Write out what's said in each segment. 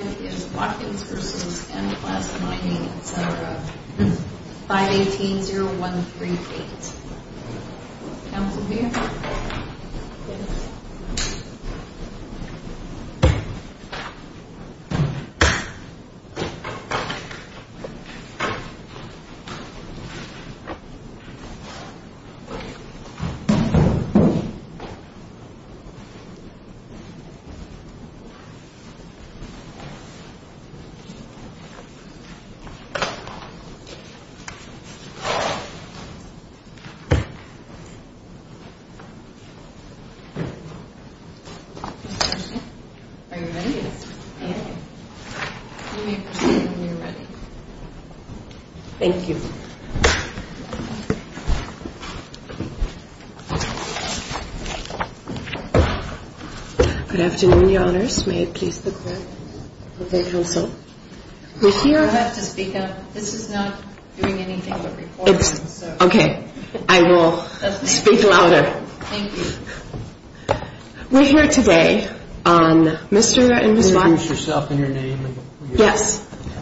518-0138 Have a good evening.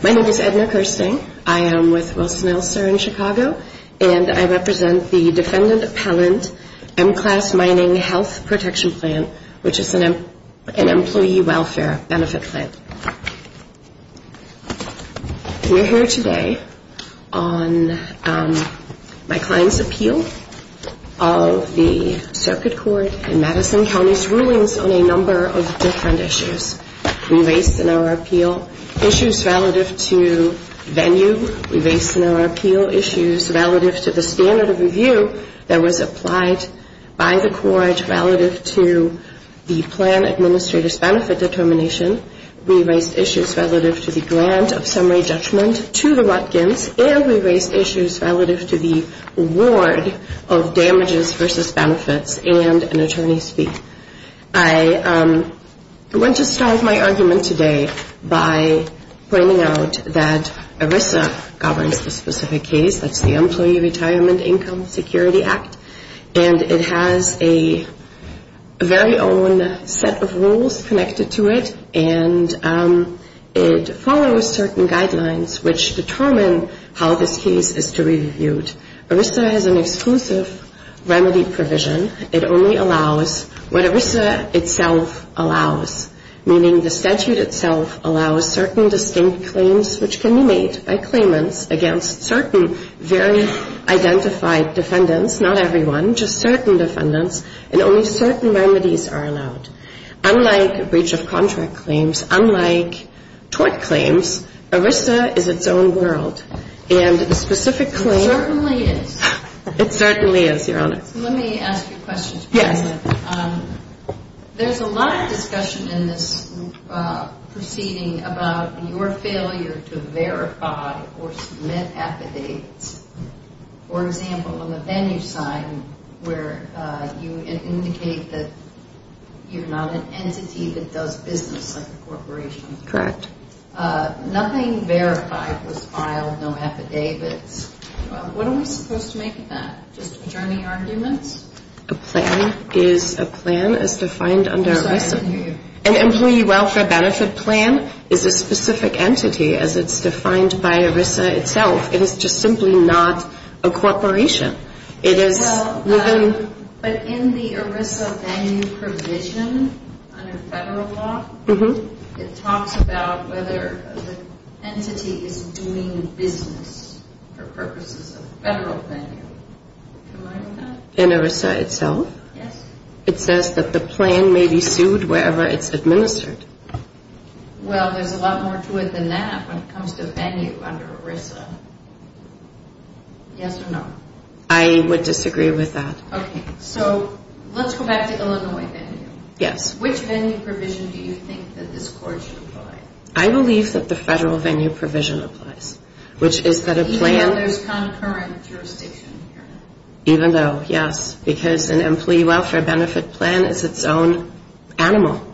My name is Edna Kirstein, I am with Wilson-Elster in Chicago, and I represent the Defendant M-Class Mining Health Protection Plan, which is an employee welfare benefit plan. We're here today on my client's appeal of the circuit court in Madison County's rulings on a number of different issues. We raised in our appeal issues relative to venue, we raised in our appeal issues relative to the standard of review that was applied by the court relative to the plan administrator's benefit determination, we raised issues relative to the grant of summary judgment to the Watkins, and we raised issues relative to the award of damages versus benefits and an attorney's fee. I want to start my argument today by pointing out that ERISA governed a specific case, that's the Employee Retirement Income Security Act, and it has a very own set of rules connected to it, and it follows certain guidelines which determine how this case is to be reviewed. ERISA has an exclusive remedy provision. It only allows what ERISA itself allows, meaning the statute itself allows certain distinct claims which can be made by claimants against certain very identified defendants, not everyone, just certain defendants, and only certain remedies are allowed. Unlike breach of contract claims, unlike tort claims, ERISA is its own world. And the specific claim... It certainly is. It certainly is, Your Honor. Let me ask you a question. Yes. There's a lot of discussion in this proceeding about your failure to verify or submit affidavits. For example, in the Venues Crime where you indicate that you're not an entity that does business with a corporation. Correct. Nothing verified was filed, no affidavit. What are we supposed to make of that? Is there any argument? A plan is a plan as defined under ERISA. An employee welfare benefit plan is a specific entity as it's defined by ERISA itself. It is just simply not a corporation. It is within... But in the ERISA venue provision on a federal law, it talks about whether an entity is doing business for purposes of a federal venue. Do you agree with that? In ERISA itself? Yes. It says that the plan may be sued wherever it's administered. Well, there's a lot more to it than that when it comes to venue under ERISA. Yes or no? I would disagree with that. Okay. So, let's go back to Illinois venue. Yes. Which venue provision do you think that this court should apply? I believe that the federal venue provision applies, which is for the plan... Even though there's concurrent jurisdiction here? Even though, yes. Because an employee welfare benefit plan is its own animal.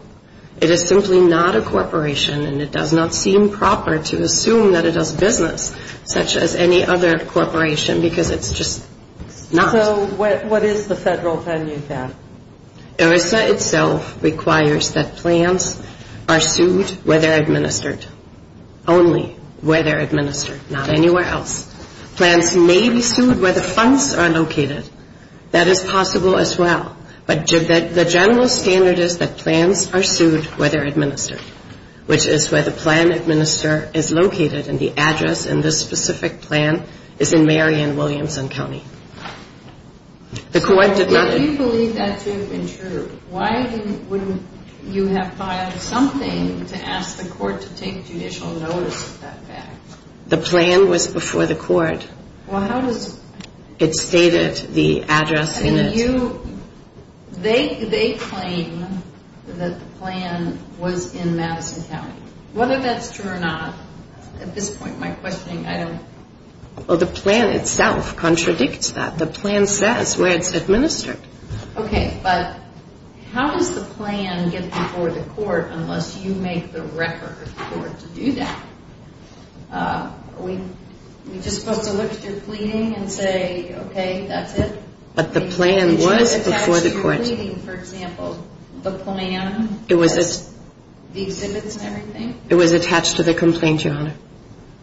It is simply not a corporation, and it does not seem proper to assume that it does business, such as any other corporation, because it's just not... So, what is the federal venue plan? ERISA itself requires that plans are sued where they're administered. Only where they're administered, not anywhere else. Plans may be sued where the funds are located. That is possible as well. But the general standard is that plans are sued where they're administered, which is where the plan administrator is located, and the address in this specific plan is in Marion, Williamson County. The court did not... Well, if you believe that to have been true, why wouldn't you have filed something to ask the court to take judicial notice of that fact? The plan was before the court. Well, how does... It stated the address in the... And you... They claim that the plan was in Madison County. Whether that's true or not, at this point, my questioning item... Well, the plan itself contradicts that. The plan says where it's administered. Okay. But how does the plan get before the court unless you make the record for it to do that? Are we... You can soak the lips, you're pleading, and say, okay, that's it. But the plan was before the court. For example, the plan... It was... The exhibits and everything? It was attached to the complaint, Your Honor.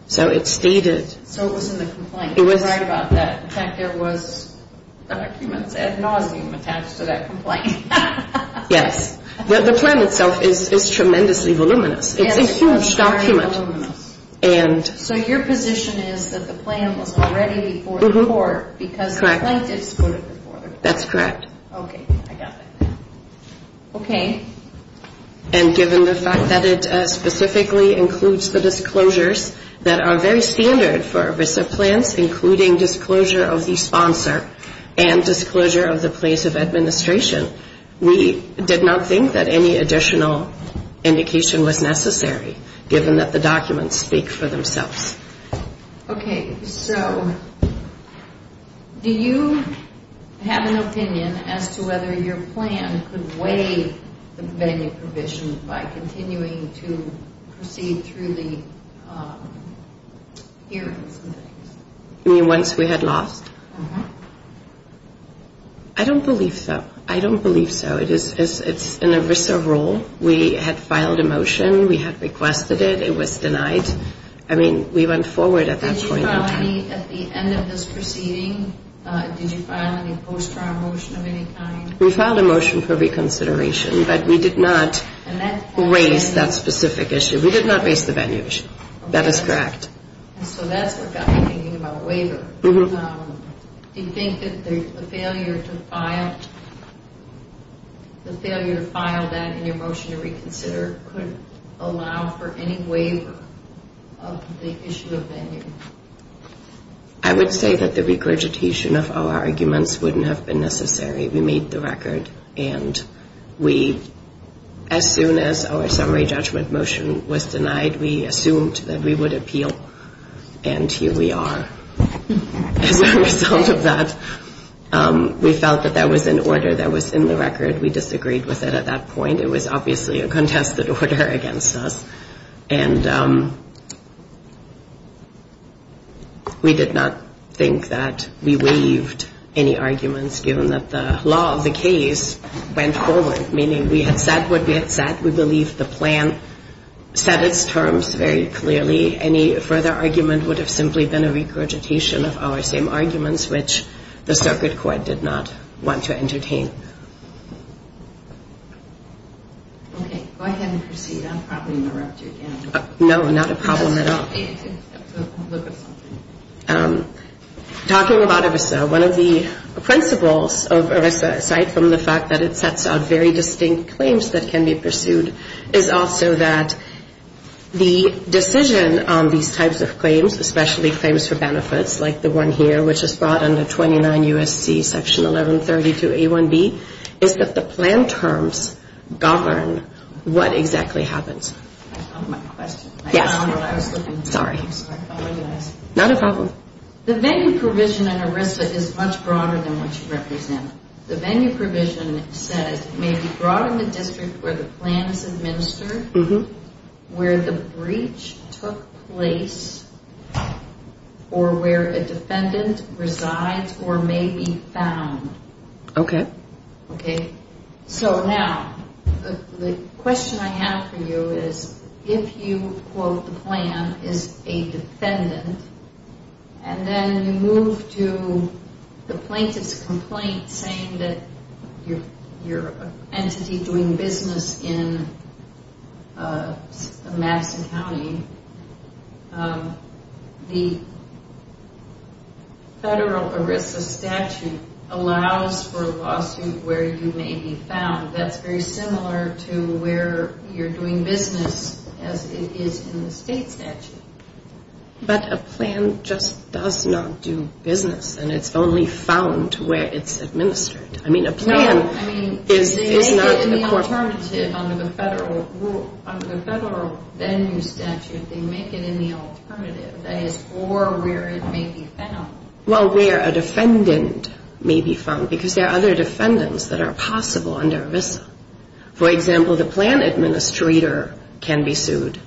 So, it stated... So, it was in the complaint. It was... I'm sorry about that. In fact, there was... No one was even asked for that complaint. Yes. Well, the plan itself is tremendously voluminous. It's a huge document. It's tremendously voluminous. And... So, your position is that the plan was already before the court because the plaintiff stood it before the court. That's correct. Okay. I got it. Okay. And given the fact that it specifically includes the disclosures that are very standard for a VISTA plan, including disclosure of the sponsor and disclosure of the place of administration, we did not think that any additional indication was necessary, given that the documents speak for themselves. Okay. Okay. So, do you have an opinion as to whether your plan could waive the convention provisions by continuing to proceed through the hearing? You mean once we had lost? Uh-huh. I don't believe so. I don't believe so. It's an ERISA rule. We had filed a motion. We had requested it. It was denied. I mean, we went forward at that point. At the end of this proceeding, did you file any post-trial motion of any kind? We filed a motion for reconsideration, but we did not raise that specific issue. We did not raise the venue issue. That is correct. So, that's what got me thinking about a waiver. Uh-huh. Do you think that the failure to file that in the motion to reconsider could allow for any waiver of the issue of venue? I would say that the regurgitation of our arguments wouldn't have been necessary. We made the record, and we, as soon as our summary judgment motion was denied, we assumed that we would appeal, and here we are. And as a result of that, we felt that there was an order that was in the record. We disagreed with it at that point. There was obviously a contested order against us, and we did not think that we waived any arguments, given that the law of the case went forward, meaning we had said what we had said. We believed the plan set its terms very clearly. Any further argument would have simply been a regurgitation of our same arguments, which the circuit court did not want to entertain. Okay. Well, I can proceed. I'm probably interrupting again. No, not a problem at all. It's a complete assumption. Talking about EVISTA, one of the principles of ERICA, aside from the fact that it sets out very distinct claims that can be pursued, is also that the decision on these types of claims, especially claims for benefits, like the one here, which is brought under 29 U.S.C. Section 1130-2A1B, is that the plan terms govern what exactly happens. That's not my question. Sorry. Not a problem. The venue provision in ERISA is much broader than what you represent. The venue provision says it may be brought in the district where the plan is administered, where the breach took place, or where a defendant resides or may be found. Okay. Okay. So now, the question I have for you is, if you quote the plan as a defendant, and then you move to the plaintiff's complaint saying that you're an entity doing business in the Madigan County, the federal ERISA statute allows for lawsuits where you may be found. That's very similar to where you're doing business as it is in the state statute. But a plan just does not do business, and it's only found where it's administered. I mean, a plan is- They make it in the alternative under the federal venue statute. They make it in the alternative, that is, or where it may be found. Well, where a defendant may be found, because there are other defendants that are possible under ERISA. For example, the plan administrator can be sued.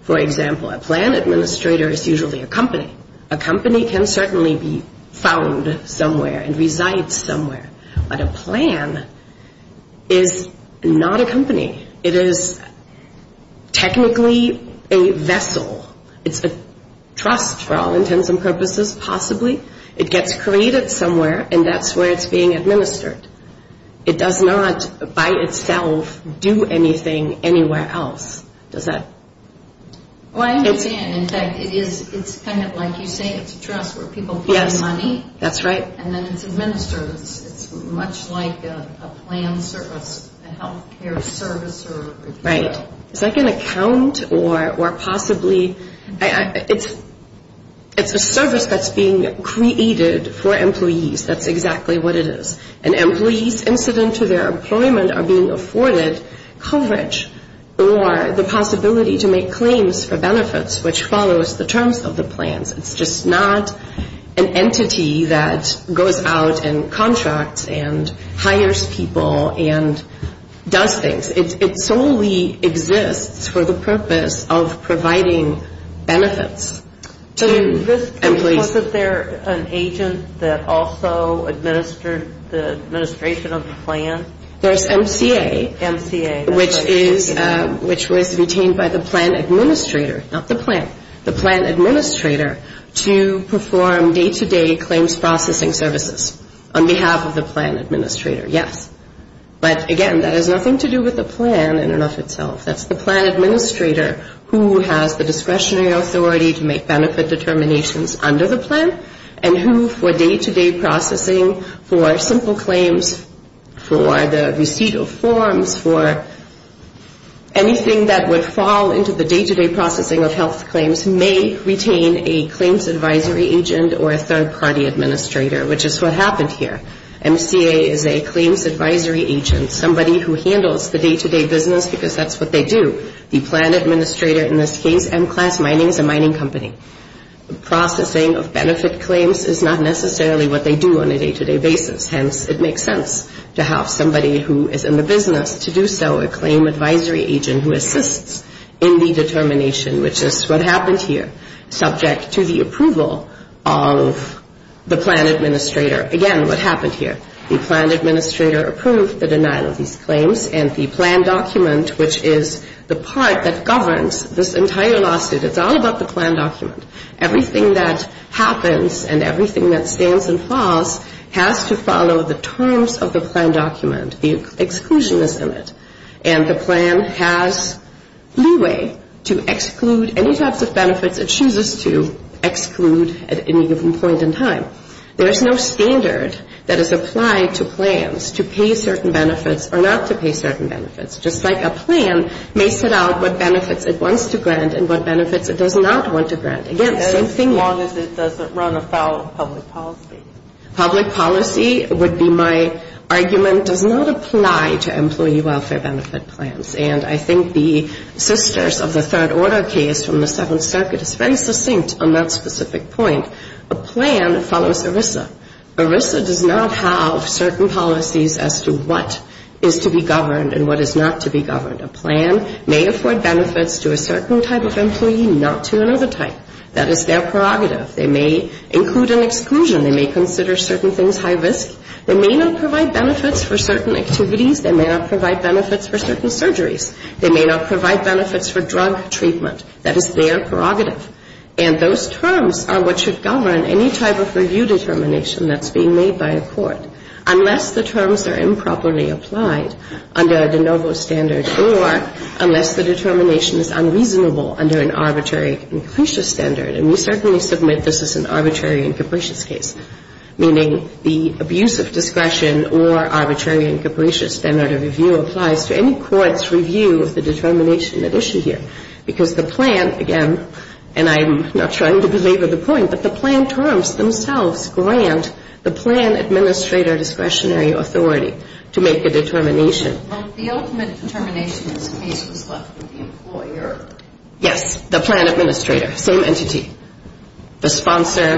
For example, a plan administrator is usually a company. A company can certainly be found somewhere and reside somewhere. But a plan is not a company. It is technically a vessel. It's a trust for all intents and purposes, possibly. It gets created somewhere, and that's where it's being administered. It does not, by itself, do anything anywhere else. Well, I understand. In fact, it's kind of like you say. It's a trust where people get money, and then it's administered. It's much like a plan service, a health care service. Right. It's like an account or possibly- It's a service that's being created for employees. That's exactly what it is. And employees, incident to their employment, are being afforded coverage or the possibility to make claims for benefits, which follows the terms of the plan. It's just not an entity that goes out and contracts and hires people and does things. It solely exists for the purpose of providing benefits to employees. Is there an agent that also administers the administration of the plan? There's MCA. MCA. Which was retained by the plan administrator. Not the plan. The plan administrator to perform day-to-day claims processing services on behalf of the plan administrator. Yes. But, again, that has nothing to do with the plan in and of itself. That's the plan administrator who has the discretionary authority to make benefit determinations under the plan and who, for day-to-day processing, for simple claims, for the receipt of forms, for anything that would fall into the day-to-day processing of health claims, may retain a claims advisory agent or a third-party administrator, which is what happened here. MCA is a claims advisory agent, somebody who handles the day-to-day business because that's what they do. The plan administrator in this case, M-Class Mining, is a mining company. Processing of benefit claims is not necessarily what they do on a day-to-day basis. Hence, it makes sense to have somebody who is in the business to do so, a claim advisory agent who assists in the determination, which is what happened here, subject to the approval of the plan administrator. Again, what happened here, the plan administrator approved the denial of these claims and the plan document, which is the part that governs this entire lawsuit. It's all about the plan document. Everything that happens and everything that stands and falls has to follow the terms of the plan document. The exclusion is in it. And the plan has leeway to exclude any types of benefits it chooses to exclude at any given point in time. There is no standard that is applied to plans to pay certain benefits or not to pay certain benefits. Just like a plan makes it out what benefits it wants to grant and what benefits it does not want to grant. As long as it doesn't run afoul of public policy. Public policy would be my argument, does not apply to employee welfare benefit plans. And I think the sisters of the third order case from the Seventh Circuit are very succinct on that specific point. A plan follows ERISA. ERISA does not have certain policies as to what is to be governed and what is not to be governed. A plan may afford benefits to a certain type of employee, not to another type. That is their prerogative. They may include an exclusion. They may consider certain things high risk. They may not provide benefits for certain activities. They may not provide benefits for certain surgeries. They may not provide benefits for drug treatment. That is their prerogative. And those terms are what should govern any type of review determination that is being made by a court. Unless the terms are improperly applied under the NOVO standard or unless the determination is unreasonable under an arbitrary and capricious standard. And we certainly submit this is an arbitrary and capricious case. Meaning the abuse of discretion or arbitrary and capricious standard of review applies to any court's review of the determination at issue here. Because the plan, again, and I'm not trying to belabor the point, but the plan terms themselves grant the plan administrator discretionary authority to make the determination. Yes, the plan administrator. Same entity. The sponsor.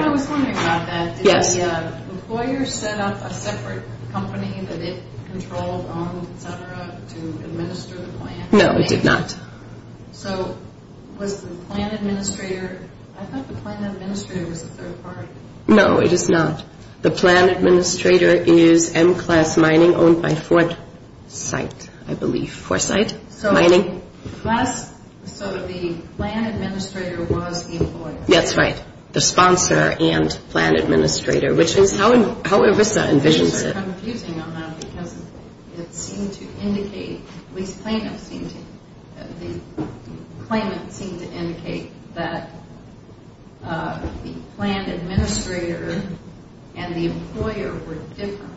No, it does not. So, was the plan administrator, I thought the plan administrator was a third party. No, it is not. The plan administrator is M-Class Mining owned by Foresight, I believe. Foresight Mining. So, the plan administrator was the employer. That's right. The sponsor and plan administrator, which is how EVISA envisions it. What I'm confusing on that because it seems to indicate, the claimant seems to indicate that the plan administrator and the employer were different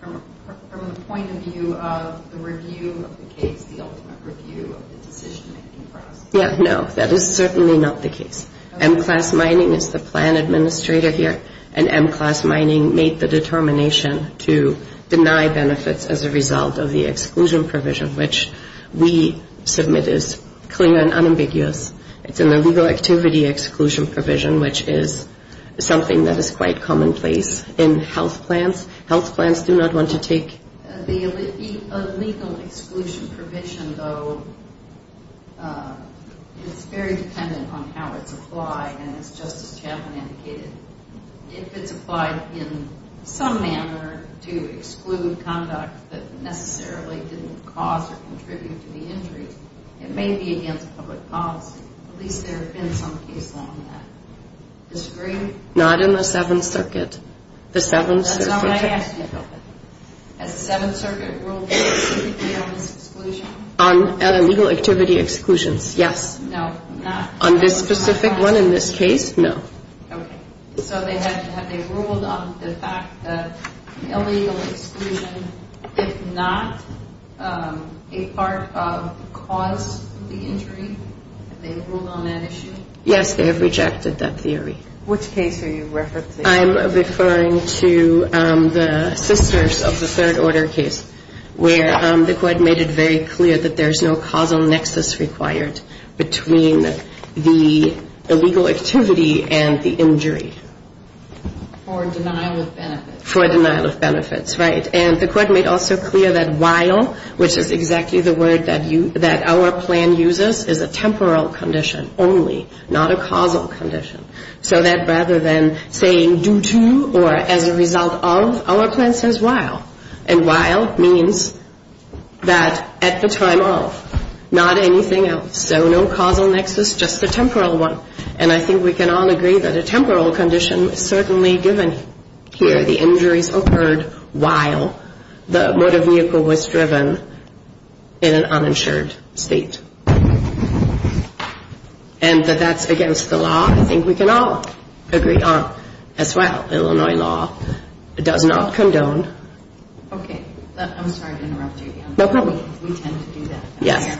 from the point of view of the review of the case, the ultimate review of the decision-making process. Yes, no, that is certainly not the case. M-Class Mining is the plan administrator here and M-Class Mining made the determination to deny benefits as a result of the exclusion provision, which we submit as clear and unambiguous. It's an illegal activity exclusion provision, which is something that is quite commonplace in health plans. Health plans do not want to take... The illegal exclusion provision, though, is very dependent on how it's applied and as Justice Chatelain indicated, if it's applied in some manner to exclude conduct that necessarily didn't cause or contribute to the injury, it may be against public policy. At least there have been some people on that. Not in the Seventh Circuit. That's not what I asked you about. At the Seventh Circuit rules, it's illegal exclusion? Illegal activity exclusion, yes. No. On this specific one in this case, no. Okay, so they ruled on the fact that illegal exclusion is not a part of the cause of the injury? They ruled on that issue? Yes, they have rejected that theory. Which case are you referring to? I'm referring to the Sisters of the Third Order case, where the court made it very clear that there's no causal nexus required between the illegal activity and the injury. For denial of benefits. For denial of benefits, right. And the court made also clear that while, which is exactly the word that our plan uses, is a temporal condition only, not a causal condition. So that rather than saying due to or as a result of, our plan says while. And while means that at the time of. Not anything else. So no causal nexus, just the temporal one. And I think we can all agree that a temporal condition is certainly given here. The injuries occurred while the motor vehicle was driven in an uninsured state. And that that's against the law, I think we can all agree on. That's why Illinois law does not condone. Okay. I'm sorry to interrupt you. No problem. We tend to do that. Yeah.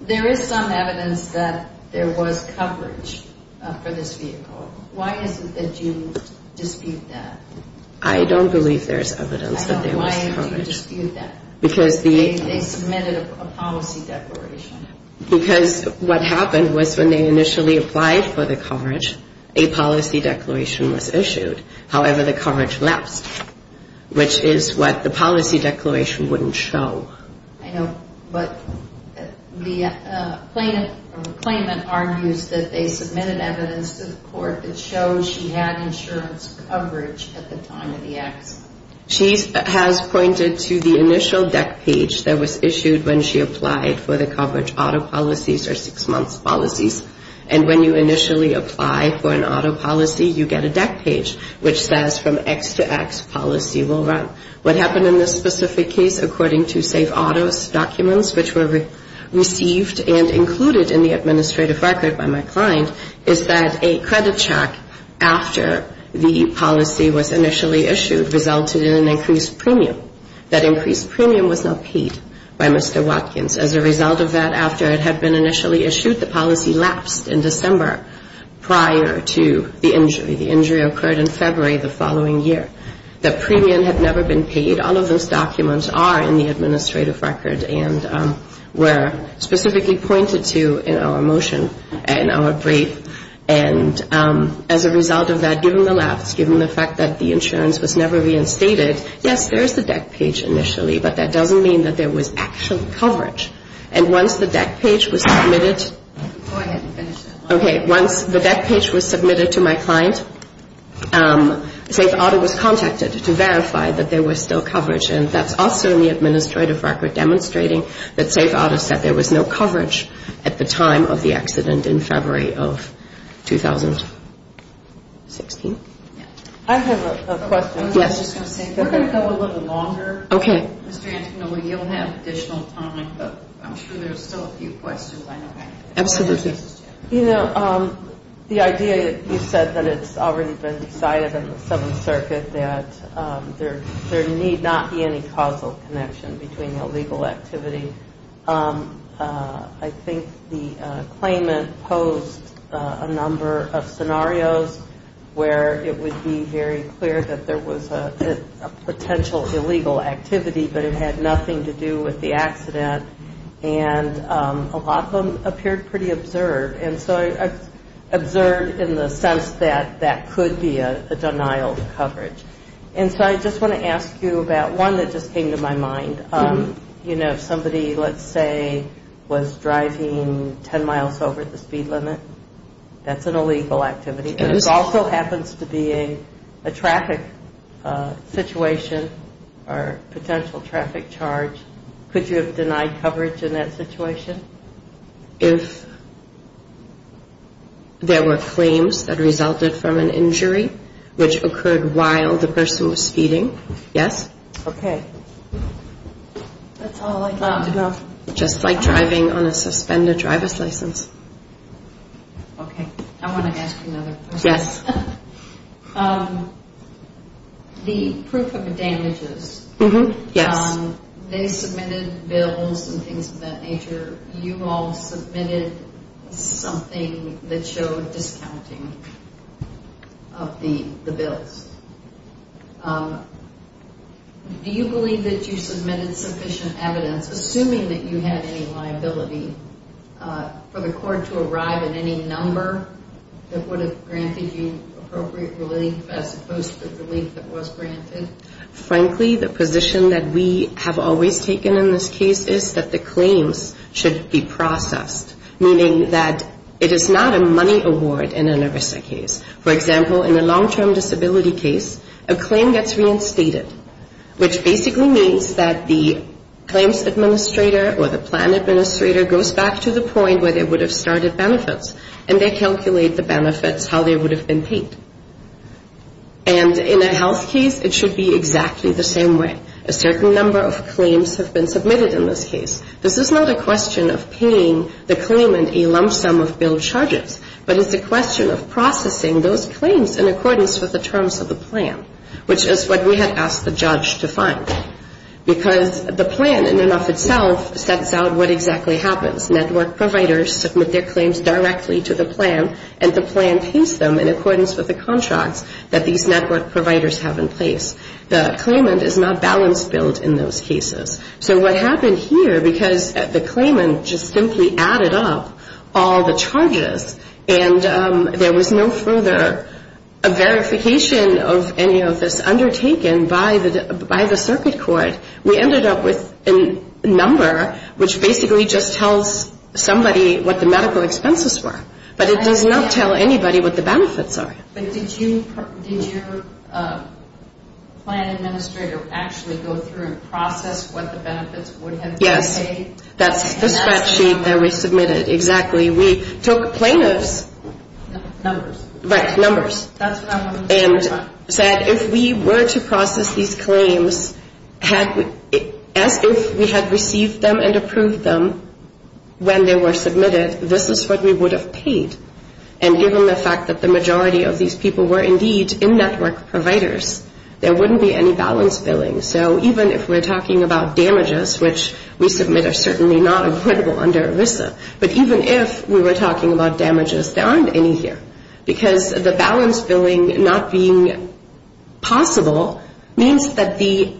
There is some evidence that there was coverage for this vehicle. Why is it that you dispute that? I don't believe there's evidence that there was coverage. I don't know why you dispute that. Because the. They committed a policy declaration. Because what happened was when they initially applied for the coverage, a policy declaration was issued. However, the coverage left, which is what the policy declaration wouldn't show. I know. But the claimant argues that they submitted evidence to the court that shows she had insurance coverage at the time of the accident. She has pointed to the initial deck page that was issued when she applied for the coverage. Auto policies are six-month policies. And when you initially apply for an auto policy, you get a deck page which says from X to X policy will run. What happened in this specific case, according to state auto documents, which were received and included in the administrative record by my client, is that a credit check after the policy was initially issued resulted in an increased premium. That increased premium was not paid by Mr. Watkins. As a result of that, after it had been initially issued, the policy lapsed in December prior to the injury. The injury occurred in February the following year. The premium had never been paid. All of those documents are in the administrative record and were specifically pointed to in our motion, in our brief. And as a result of that, during the lapse, given the fact that the insurance was never reinstated, yes, there is a deck page initially, but that doesn't mean that there was actual coverage. And once the deck page was submitted to my client, state auto was contacted to verify that there was still coverage. And that's also in the administrative record demonstrating that state auto said there was no coverage at the time of the accident in February of 2016. I have a question. Yes. We're going to go a little bit longer. Okay. You'll have additional time, but I'm sure there's still a few questions. Absolutely. You know, the idea that you said that it's already been decided in the Seventh Circuit that there need not be any causal connection between the legal activity. I think the claimant posed a number of scenarios where it would be very clear that there was a potential illegal activity, but it had nothing to do with the accident. And a lot of them appeared pretty observed. And so, observed in the sense that that could be a denial of coverage. And so, I just want to ask you about one that just came to my mind. You know, somebody, let's say, was driving 10 miles over the speed limit. That's an illegal activity. This also happens to be a traffic situation or potential traffic charge. Could you have denied coverage in that situation? If there were claims that resulted from an injury which occurred while the person was speeding, yes. Okay. Just like driving on a suspended driver's license. Okay. I want to ask you another question. Yes. The proof of damages, they submitted bills and things of that nature. You all submitted something that showed discounting of the bills. Do you believe that you submitted sufficient evidence, assuming that you had any liability, for the court to arrive at any number that would have granted you appropriate relief as opposed to the relief that was granted? Frankly, the position that we have always taken in this case is that the claims should be processed, meaning that it is not a money award in an ARISTA case. For example, in a long-term disability case, a claim gets reinstated, which basically means that the claims administrator or the plan administrator goes back to the point where they would have started benefits, and they calculate the benefits, how they would have been paid. And in a health case, it should be exactly the same way. A certain number of claims have been submitted in this case. This is not a question of paying the claimant a lump sum of bill charges, but it's a question of processing those claims in accordance with the terms of the plan, which is what we had asked the judge to fund. Because the plan, in and of itself, sets out what exactly happens. Network providers submit their claims directly to the plan, and the plan paints them in accordance with the contract that these network providers have in place. The claimant is not balance built in those cases. So what happened here, because the claimant just simply added up all the charges, and there was no further verification of any of this undertaken by the circuit court, we ended up with a number which basically just tells somebody what the medical expenses were. But it does not tell anybody what the benefits are. Did your plan administrator actually go through and process what the benefits would have been paid? Yes, that sheet that we submitted. Exactly. We took plaintiffs' numbers and said if we were to process these claims as if we had received them and approved them when they were submitted, this is what we would have paid. And given the fact that the majority of these people were indeed in-network providers, there wouldn't be any balance billing. So even if we're talking about damages, which we submit are certainly not equitable under ELISA, but even if we were talking about damages, there aren't any here. Because the balance billing not being possible means that the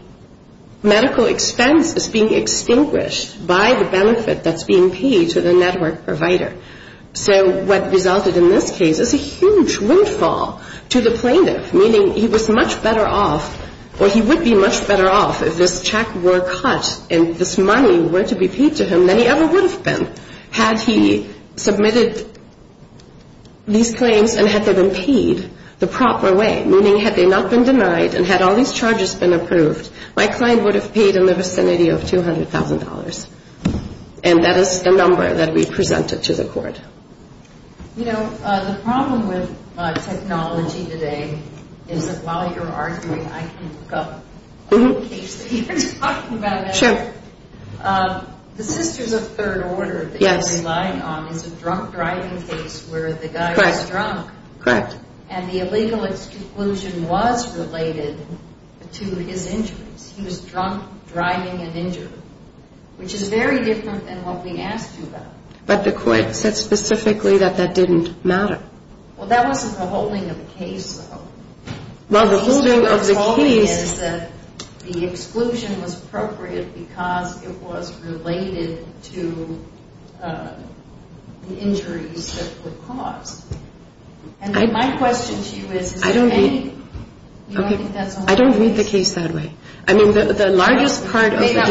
medical expense is being extinguished by the benefit that's being paid to the network provider. So what resulted in this case is a huge windfall to the plaintiff, meaning he was much better off or he would be much better off if this check were cut and this money were to be paid to him than he ever would have been had he submitted these claims and had them been paid the proper way, meaning had they not been denied and had all these charges been approved, my client would have paid in the vicinity of $200,000. And that is the number that we presented to the court. You know, the problem with technology today is that while you're arguing, I can look up all the cases. You were talking about that. Sure. The sisters of third order that you relied on was a drunk driving case where the guy was drunk. Correct. And the illegal exclusion was related to his interest. He was drunk, driving, and injured, which is very different than what we asked for. But the court said specifically that that didn't matter. Well, that wasn't the holding of the case, though. Well, the holding of the case is that the exclusion was appropriate because it was related to the injuries that were caused. And my question to you is, is there any... Okay. I don't read the case that way. I mean, the largest part of the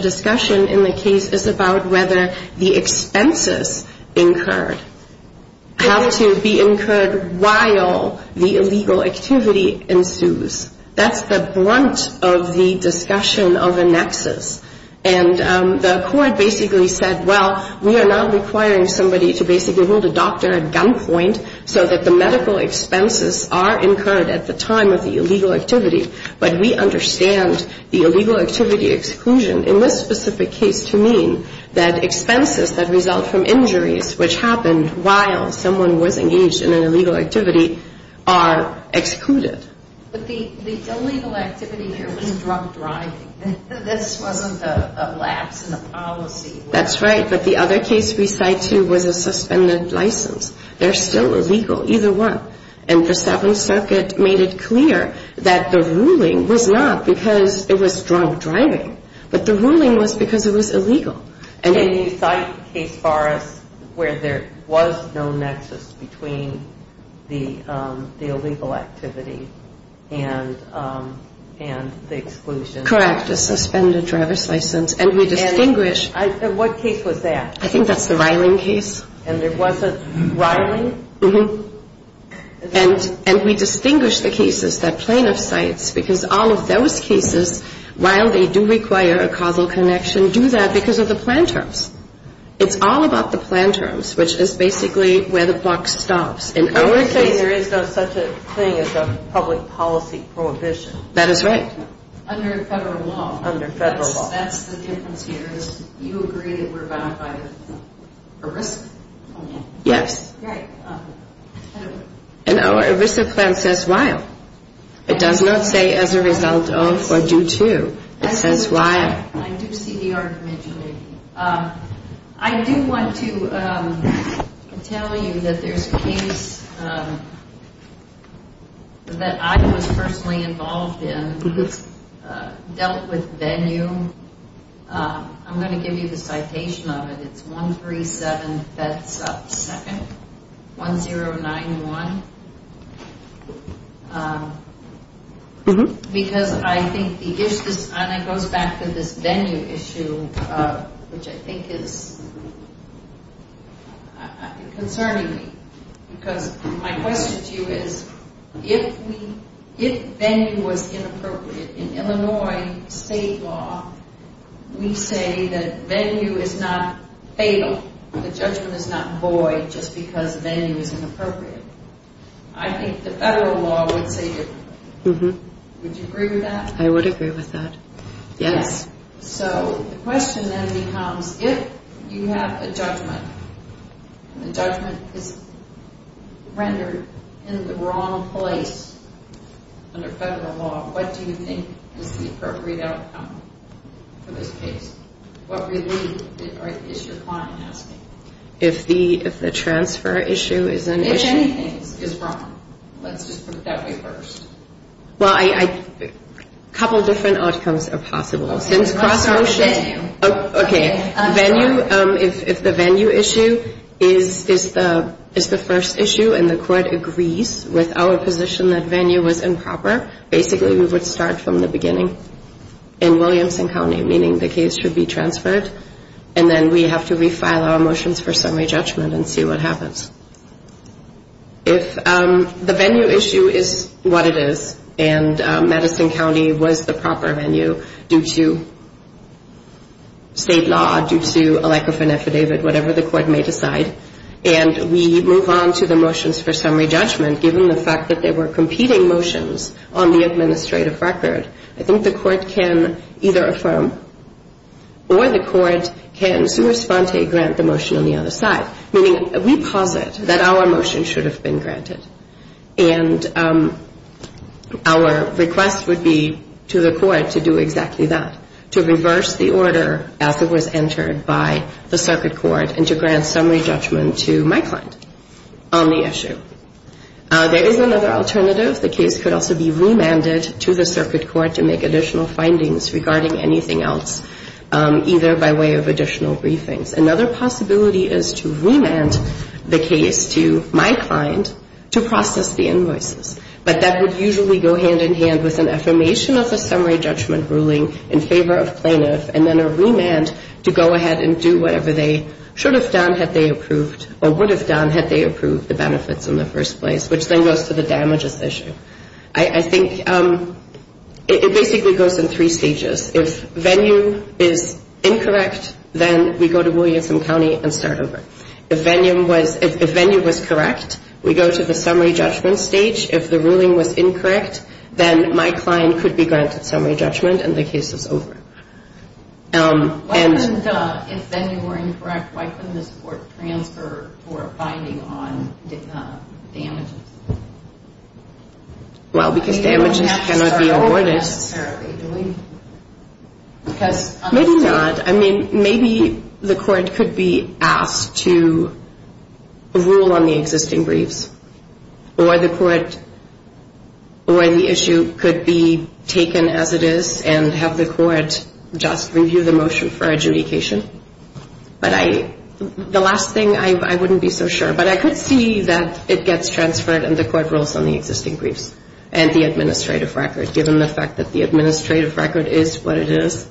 discussion in the case is about whether the expenses incurred, how to be incurred while the illegal activity ensues. And the court basically said, well, we are not requiring somebody to basically hold a doctor at gunpoint so that the medical expenses are incurred at the time of the illegal activity. But we understand the illegal activity exclusion in this specific case to mean that expenses that result from injuries, which happen while someone was engaged in an illegal activity, are excluded. But the illegal activity here means drunk driving. That's one of the lapses in the policy. That's right. But the other case we cite, too, was a suspended license. They're still illegal, either one. And the Seventh Circuit made it clear that the ruling was not because it was drunk driving, but the ruling was because it was illegal. And you cite a case where there was no nexus between the illegal activity and the exclusion. Correct. A suspended driver's license. And we distinguish... And what case was that? I think that's the Riling case. And there was a Riling? Mm-hmm. And we distinguish the cases, the plaintiff's case, because all of those cases, while they do require a causal connection, do that because of the plan terms. It's all about the plan terms, which is basically where the box stops. And I would say there is no such thing as a public policy prohibition. That is right. Under federal law. Under federal law. That's the case in which you agree that we're bound by a risk. Yes. Right. And our risk assessment says while. It does not say as a result of or due to. That's why. I do see the argument, Julie. I do want to tell you that there's a case that I was personally involved in, dealt with venue. I'm going to give you the citation of it. It's 137, if that's up to seconds. 1091. Because I think it goes back to this venue issue, which I think is concerning me. Because my question to you is, if venue was inappropriate in Illinois state law, we say that venue is not fatal. The judgment is not void just because venue is inappropriate. I think the federal law would say it's not. Would you agree with that? I would agree with that. Yes. So the question then becomes, if you have a judgment, and the judgment is rendered in the wrong place under federal law, what do you think is the appropriate outcome for this case? What relief is your client having? If the transfer issue is an issue? If anything is wrong. Let's just put it that way first. Well, a couple different outcomes are possible. Okay. If the venue issue is the first issue and the court agrees with our position that venue was improper, basically we would start from the beginning in Williamson County, meaning the case should be transferred. And then we have to refile our motions for summary judgment and see what happens. If the venue issue is what it is, and Madison County was the proper venue due to state law, due to a lack of an affidavit, whatever the court may decide, and we move on to the motions for summary judgment, given the fact that they were competing motions on the administrative record, I think the court can either affirm or the court can sua sante grant the motion on the other side, meaning we posit that our motion should have been granted. And our request would be to the court to do exactly that, to reverse the order as it was entered by the circuit court and to grant summary judgment to my client on the issue. There is another alternative. The case could also be remanded to the circuit court to make additional findings regarding anything else, either by way of additional briefings. Another possibility is to remand the case to my client to process the invoice. But that would usually go hand in hand with an affirmation of the summary judgment ruling in favor of plaintiffs and then a remand to go ahead and do whatever they should have done had they approved or would have done had they approved the benefits in the first place, which then goes to the damages issue. I think it basically goes in three stages. If venue is incorrect, then we go to Williamson County and start over. If venue was correct, we go to the summary judgment stage. If the ruling was incorrect, then my client could be granted summary judgment and the case is over. If venue were incorrect, why couldn't this court transfer for a finding on damages? Well, because damages cannot be awarded. Maybe not. I mean, maybe the court could be asked to rule on the existing briefs or the issue could be taken as it is and have the court just review the motion for adjudication. The last thing, I wouldn't be so sure. But I could see that it gets transferred and the court rules on the existing briefs and the administrative record. Given the fact that the administrative record is what it is,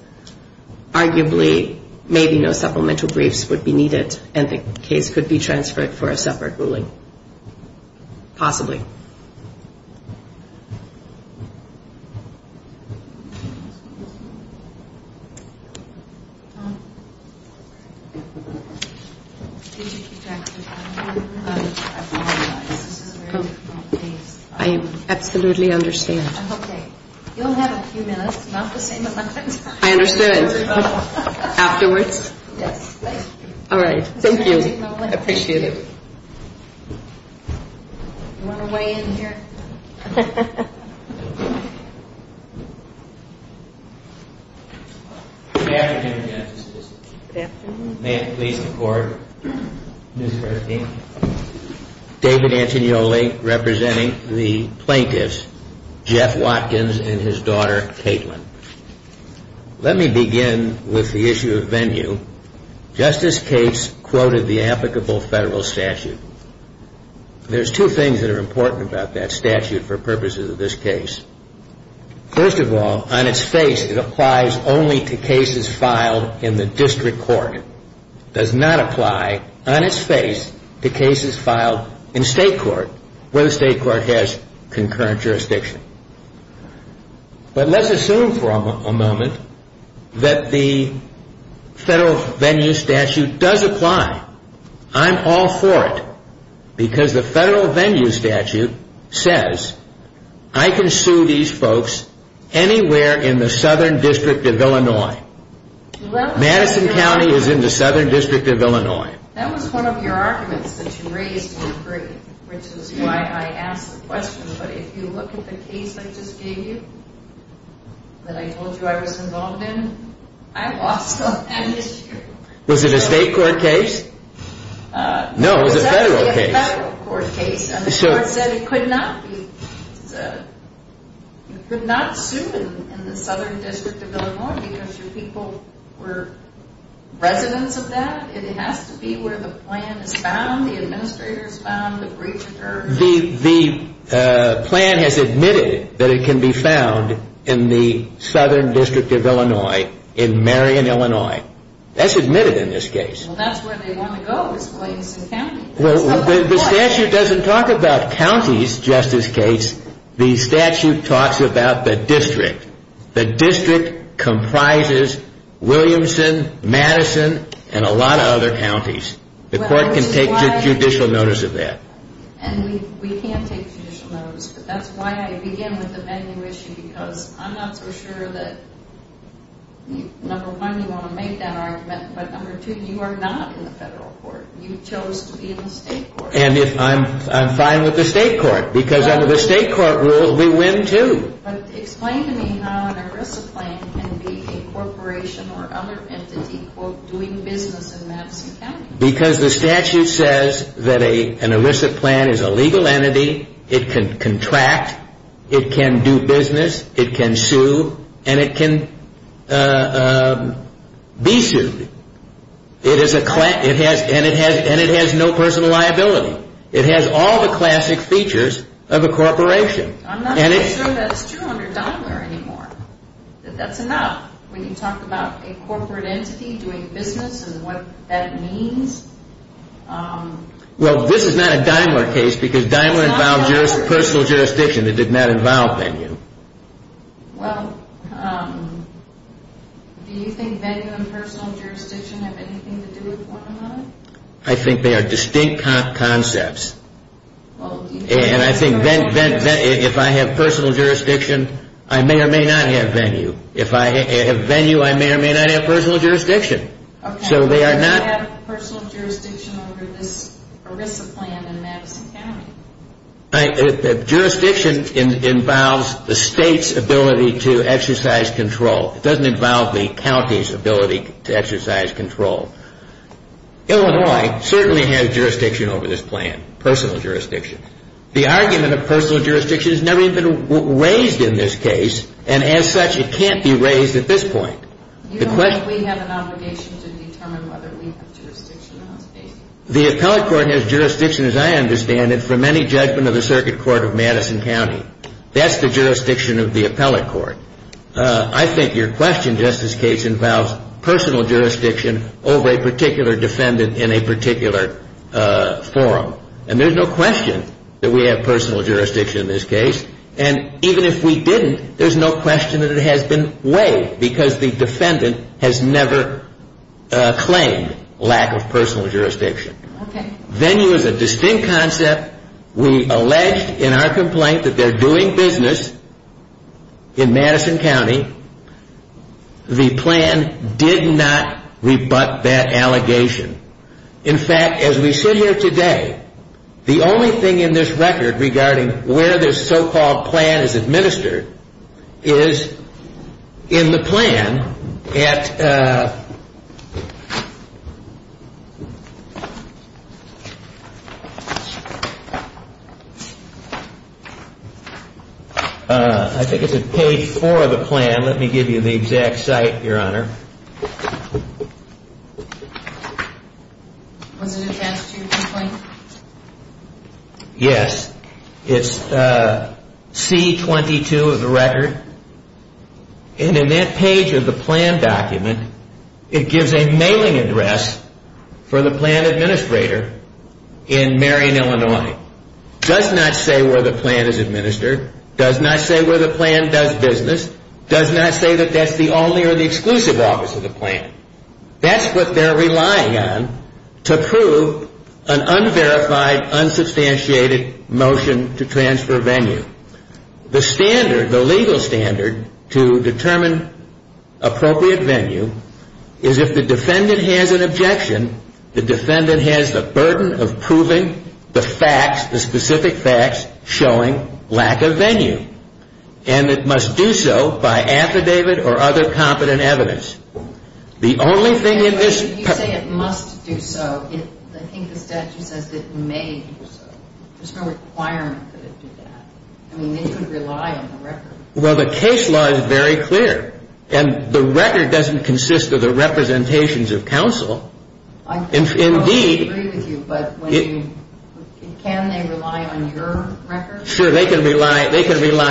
arguably, maybe no supplemental briefs would be needed and the case could be transferred for a separate ruling. Possibly. Thank you. I absolutely understand. Okay. You'll have a few minutes. I understand. Afterwards? Yes. All right. Thank you. I appreciate it. Thank you. Good afternoon, Justice. Good afternoon. May it please the Court. Let me start again. David Antignoli representing the plaintiffs, Jeff Watkins and his daughter, Caitlin. Let me begin with the issue of venue. Justice Cates quoted the applicable federal statute. There's two things that are important about that statute for purposes of this case. First of all, on its face, it applies only to cases filed in the district court. It does not apply on its face to cases filed in state court, where the state court has concurrent jurisdiction. But let's assume for a moment that the federal venue statute does apply. I'm all for it, because the federal venue statute says, I can sue these folks anywhere in the Southern District of Illinois. Madison County is in the Southern District of Illinois. That was one of your arguments that you raised in your brief, which is why I asked the question. But if you look at the case I just gave you that I told you I was involved in, I watched it and it's true. Was it a state court case? No, it was a federal case. It was a federal court case. And the court said it could not be sued in the Southern District of Illinois because the people were residents of that. It has to be where the plan is found, the administrator has found, the brief occurred. The plan has admitted that it can be found in the Southern District of Illinois, in Marion, Illinois. That's admitted in this case. Well, that's where they want to go, is Williamson County. Well, the statute doesn't talk about counties, Justice Gates. The statute talks about the district. The district comprises Williamson, Madison, and a lot of other counties. The court can take judicial notice of that. And we can't take judicial notice of that. That's why I began with the venue issue, because I'm not for sure that, number one, you want to make that argument, but number two, you are not in the federal court. You chose to be in the state court. And I'm fine with the state court, because under the state court rule, we win too. But explain to me how an ERISA plan can be a corporation or other entity doing business in Madison County. Because the statute says that an ERISA plan is a legal entity, it can contract, it can do business, it can sue, and it can be sued. And it has no personal liability. It has all the classic features of a corporation. I'm not sure that's true under Dimer anymore. That's enough. When you talk about a corporate entity doing business and what that means. Well, this is not a Dimer case, because Dimer involves personal jurisdiction that did not involve venue. Well, do you think venue and personal jurisdiction have anything to do with one another? I think they are distinct concepts. And I think if I have personal jurisdiction, I may or may not have venue. If I have venue, I may or may not have personal jurisdiction. Okay. So they are not... You don't have personal jurisdiction under this ERISA plan in Madison County. Jurisdiction involves the state's ability to exercise control. It doesn't involve the county's ability to exercise control. Illinois certainly has jurisdiction over this plan, personal jurisdiction. The argument of personal jurisdiction has never even been raised in this case, and as such, it can't be raised at this point. You don't think we have an obligation to determine whether we have jurisdiction or not? The appellate court has jurisdiction, as I understand it, from any judgment of the Circuit Court of Madison County. That's the jurisdiction of the appellate court. I think your question, Justice Gates, involves personal jurisdiction over a particular defendant in a particular forum. And there's no question that we have personal jurisdiction in this case. And even if we didn't, there's no question that it has been weighed, because the defendant has never claimed lack of personal jurisdiction. Okay. Then there was a distinct concept. We alleged in our complaint that they're doing business in Madison County. The plan did not rebut that allegation. In fact, as we sit here today, the only thing in this record regarding where this so-called plan is administered is in the plan at, I think it's at page four of the plan. Let me give you the exact site, Your Honor. Yes. It's C-22 of the record. And in that page of the plan document, it gives a mailing address for the plan administrator in Marion, Illinois. It does not say where the plan is administered. It does not say where the plan does business. It does not say that that's the only or the exclusive office of the plan. That's what they're relying on to prove an unverified, unsubstantiated motion to transfer venue. The standard, the legal standard to determine appropriate venue, is if the defendant has an objection, the defendant has the burden of proving the facts, the specific facts showing lack of venue. And it must do so by affidavit or other competent evidence. The only thing in this... You say it must do so. I think the question is if it may do so. There's no requirement for it to do that. I mean, they could rely on the record. Well, the case law is very clear. And the record doesn't consist of the representations of counsel. I totally agree with you, but can they rely on your record? Sure, they can rely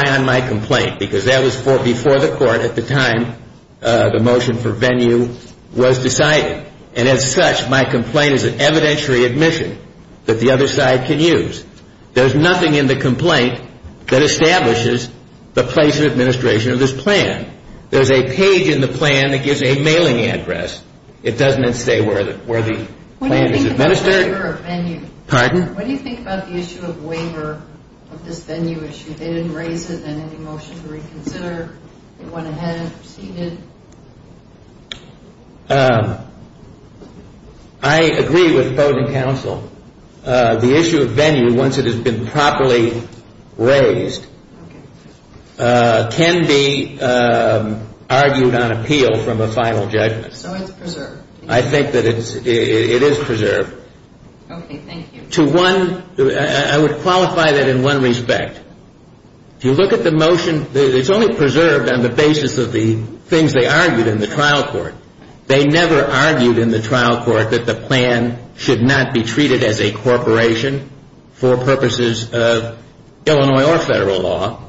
on my complaint, because that was before the court at the time the motion for venue was decided. And as such, my complaint is an evidentiary admission that the other side can use. There's nothing in the complaint that establishes the place of administration of this plan. There's a page in the plan that gives a mailing address. It doesn't say where the plan is administered. Pardon? When you think about the issue of waiver of this venue issue, did it raise it in any motion to reconsider? Did it go ahead? Did it? I agree with opposing counsel. The issue of venue, once it has been properly raised, can be argued on appeal from a final judgment. So it's preserved. I think that it is preserved. Okay, thank you. I would qualify that in one respect. If you look at the motion, it's only preserved on the basis of the things they argued in the trial court. They never argued in the trial court that the plan should not be treated as a corporation for purposes of Illinois or federal law.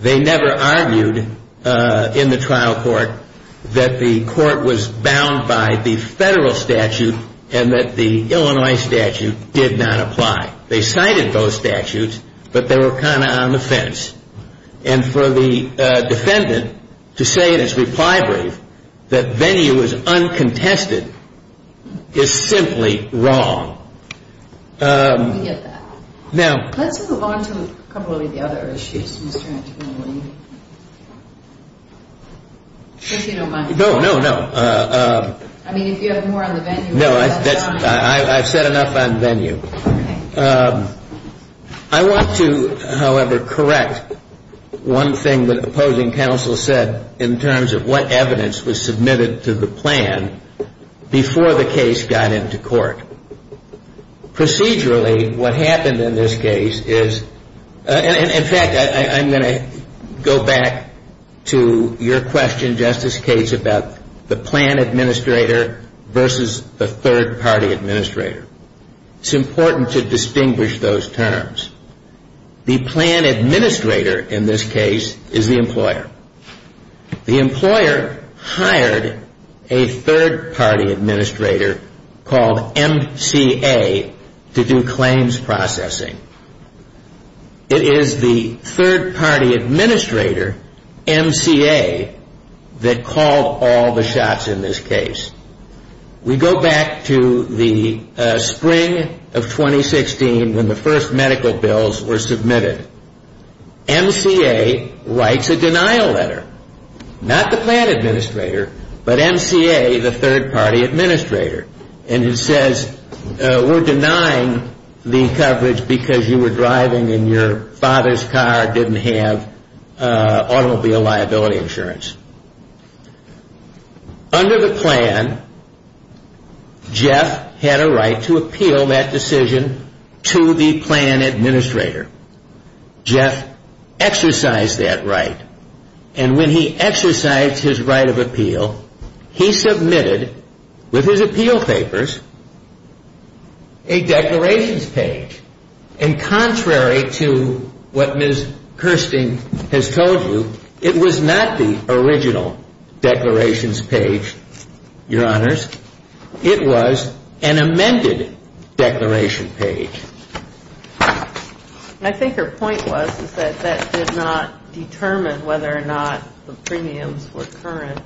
They never argued in the trial court that the court was bound by the federal statute and that the Illinois statute did not apply. They cited those statutes, but they were kind of on the fence. And for the defendant to say in his reply brief that venue is uncontested is simply wrong. Let's move on to a couple of the other issues. No, no, no. I mean, if you have more on the venue. No, I've said enough on venue. I want to, however, correct one thing that opposing counsel said in terms of what evidence was submitted to the plan before the case got into court. Procedurally, what happened in this case is, and in fact, I'm going to go back to your question, Justice Cates, about the plan administrator versus the third party administrator. It's important to distinguish those terms. The plan administrator in this case is the employer. The employer hired a third party administrator called MCA to do claims processing. It is the third party administrator, MCA, that called all the shots in this case. We go back to the spring of 2016 when the first medical bills were submitted. MCA writes a denial letter. Not the plan administrator, but MCA, the third party administrator. And it says, we're denying the coverage because you were driving and your father's car didn't have automobile liability insurance. Under the plan, Jeff had a right to appeal that decision to the plan administrator. Jeff exercised that right. And when he exercised his right of appeal, he submitted, with his appeal papers, a declarations page. And contrary to what Ms. Kirsten has told you, it was not the original declarations page, your honors. It was an amended declaration page. I think her point was that that did not determine whether or not the premiums were current.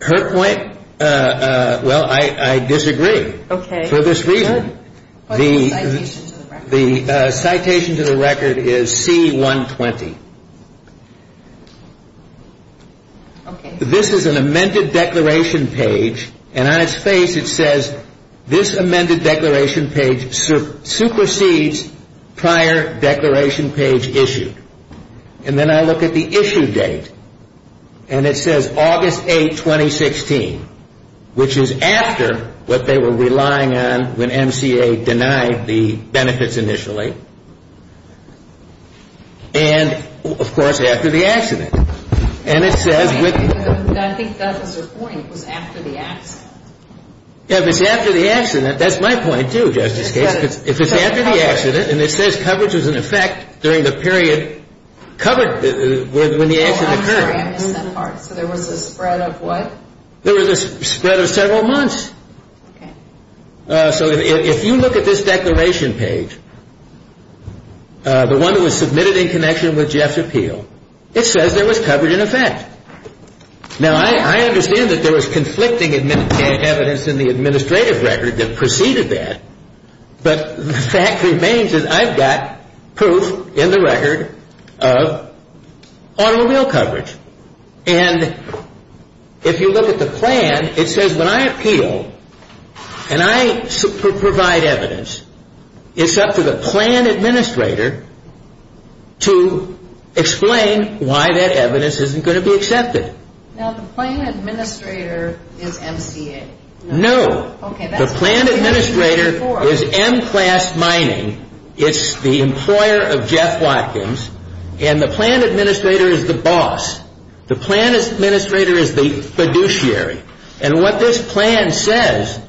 Her point, well, I disagree. For this reason, the citation to the record is C-120. This is an amended declaration page, and on its page it says, this amended declaration page supersedes prior declaration page issued. And then I look at the issue date, and it says August 8, 2016, which is after what they were relying on when MCA denied the benefits initially. And, of course, after the accident. And it says with... I think that was her point, was after the accident. Yeah, if it's after the accident, that's my point, too, Justice Kagan. If it's after the accident, and it says coverage was in effect during the period covered when the accident occurred. So there was a spread of what? There was a spread of several months. So if you look at this declaration page, the one that was submitted in connection with Jeff's appeal, it says there was coverage in effect. Now, I understand that there was conflicting evidence in the administrative record that preceded that, but the fact remains that I've got proof in the record of automobile coverage. And if you look at the plan, it says when I appeal, and I provide evidence, it's up to the plan administrator to explain why that evidence isn't going to be accepted. Now, the plan administrator is MCA. No. The plan administrator is M-Class Mining. It's the employer of Jeff Watkins. And the plan administrator is the boss. The plan administrator is the fiduciary. And what this plan says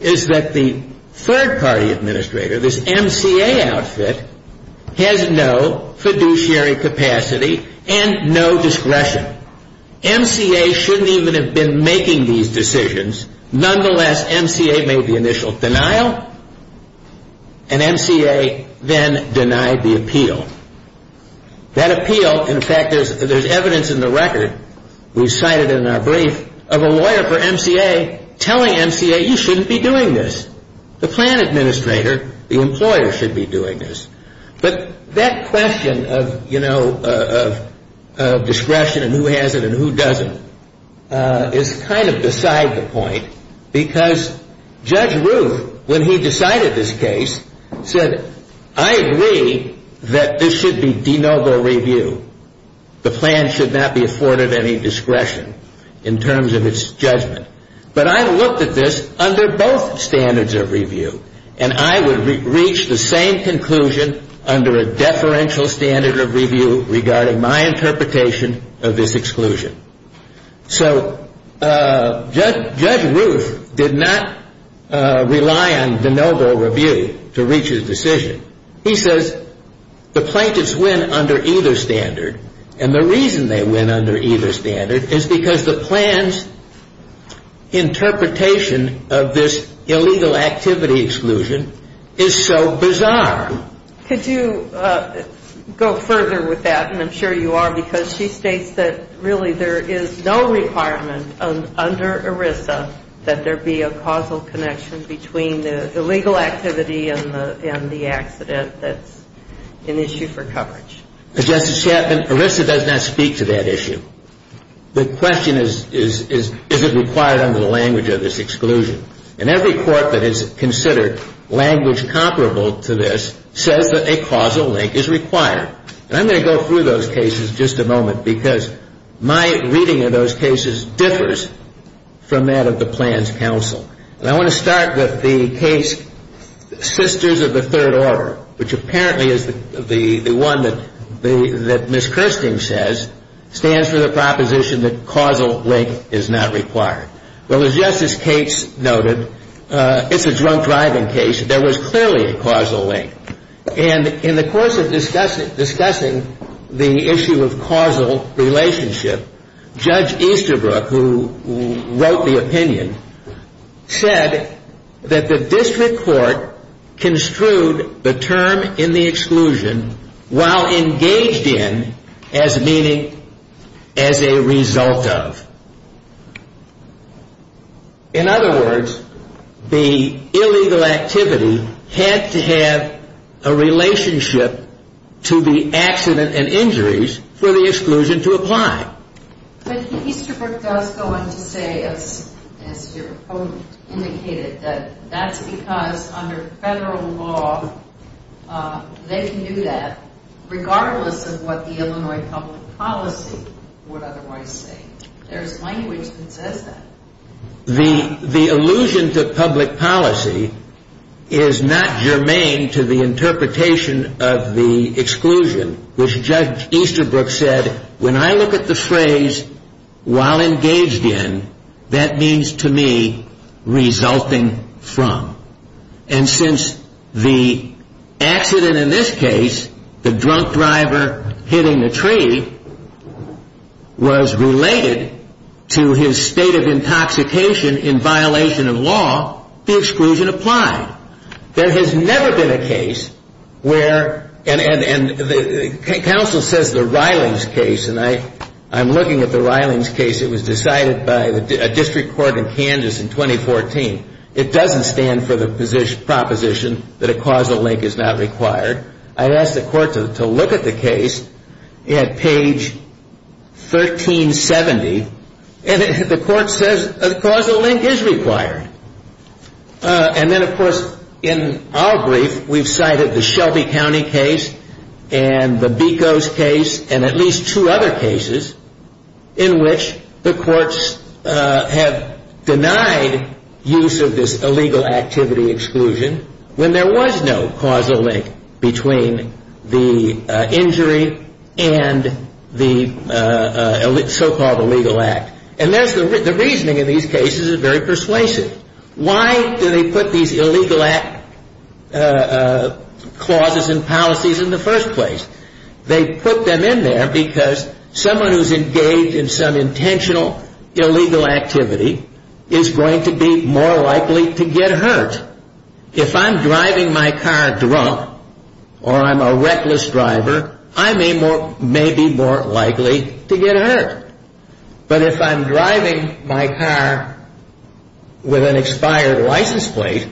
is that the third-party administrator, this MCA outfit, has no fiduciary capacity and no discretion. MCA shouldn't even have been making these decisions. Nonetheless, MCA made the initial denial, and MCA then denied the appeal. That appeal, in fact, there's evidence in the record, we cited it in our brief, of a lawyer for MCA telling MCA you shouldn't be doing this. The plan administrator, the employer, should be doing this. But that question of discretion and who has it and who doesn't is kind of beside the point because Judge Roof, when he decided this case, said, I agree that this should be de novo review. The plan should not be afforded any discretion in terms of its judgment. But I looked at this under both standards of review, and I would reach the same conclusion under a deferential standard of review regarding my interpretation of this exclusion. So Judge Roof did not rely on de novo review to reach his decision. He says the plaintiffs win under either standard, and the reason they win under either standard is because the plan's interpretation of this illegal activity exclusion is so bizarre. Could you go further with that? And I'm sure you are because she states that really there is no requirement under ERISA that there be a causal connection between the illegal activity and the act that's an issue for coverage. Justice Chapman, ERISA does not speak to that issue. The question is, is it required under the language of this exclusion? And every court that has considered language comparable to this says that a causal link is required. And I'm going to go through those cases in just a moment because my reading of those cases differs from that of the Plans Council. And I want to start with the case Sisters of the Third Order, which apparently is the one that Ms. Christian says stands for the proposition that causal link is not required. Well, as Justice Cates noted, it's a drunk driving case. There was clearly a causal link. And in the course of discussing the issue of causal relationship, Judge Easterbrook, who wrote the opinion, said that the district court construed the term in the exclusion while engaged in as meaning as a result of. In other words, the illegal activity had to have a relationship to the accident and injuries for the exclusion to apply. But Easterbrook does go on to say, as your opponent indicated, that that's because under federal law they can do that regardless of what the Illinois public policy would otherwise say. There's language that says that. The allusion to public policy is not germane to the interpretation of the exclusion, which Judge Easterbrook said, when I look at the phrase while engaged in, that means to me resulting from. And since the accident in this case, the drunk driver hitting the tree, was related to his state of intoxication in violation of law, the exclusion applied. There has never been a case where, and counsel says the Rylands case, and I'm looking at the Rylands case that was decided by a district court in Kansas in 2014. It doesn't stand for the proposition that a causal link is not required. I asked the court to look at the case at page 1370, and the court says a causal link is required. And then, of course, in our brief, we've cited the Shelby County case, and the Becos case, and at least two other cases in which the courts have denied use of this illegal activity exclusion when there was no causal link between the injury and the so-called illegal act. And the reasoning in these cases is very persuasive. Why do they put these illegal act clauses and policies in the first place? They put them in there because someone who's engaged in some intentional illegal activity is going to be more likely to get hurt. If I'm driving my car drunk, or I'm a reckless driver, I may be more likely to get hurt. But if I'm driving my car with an expired license plate,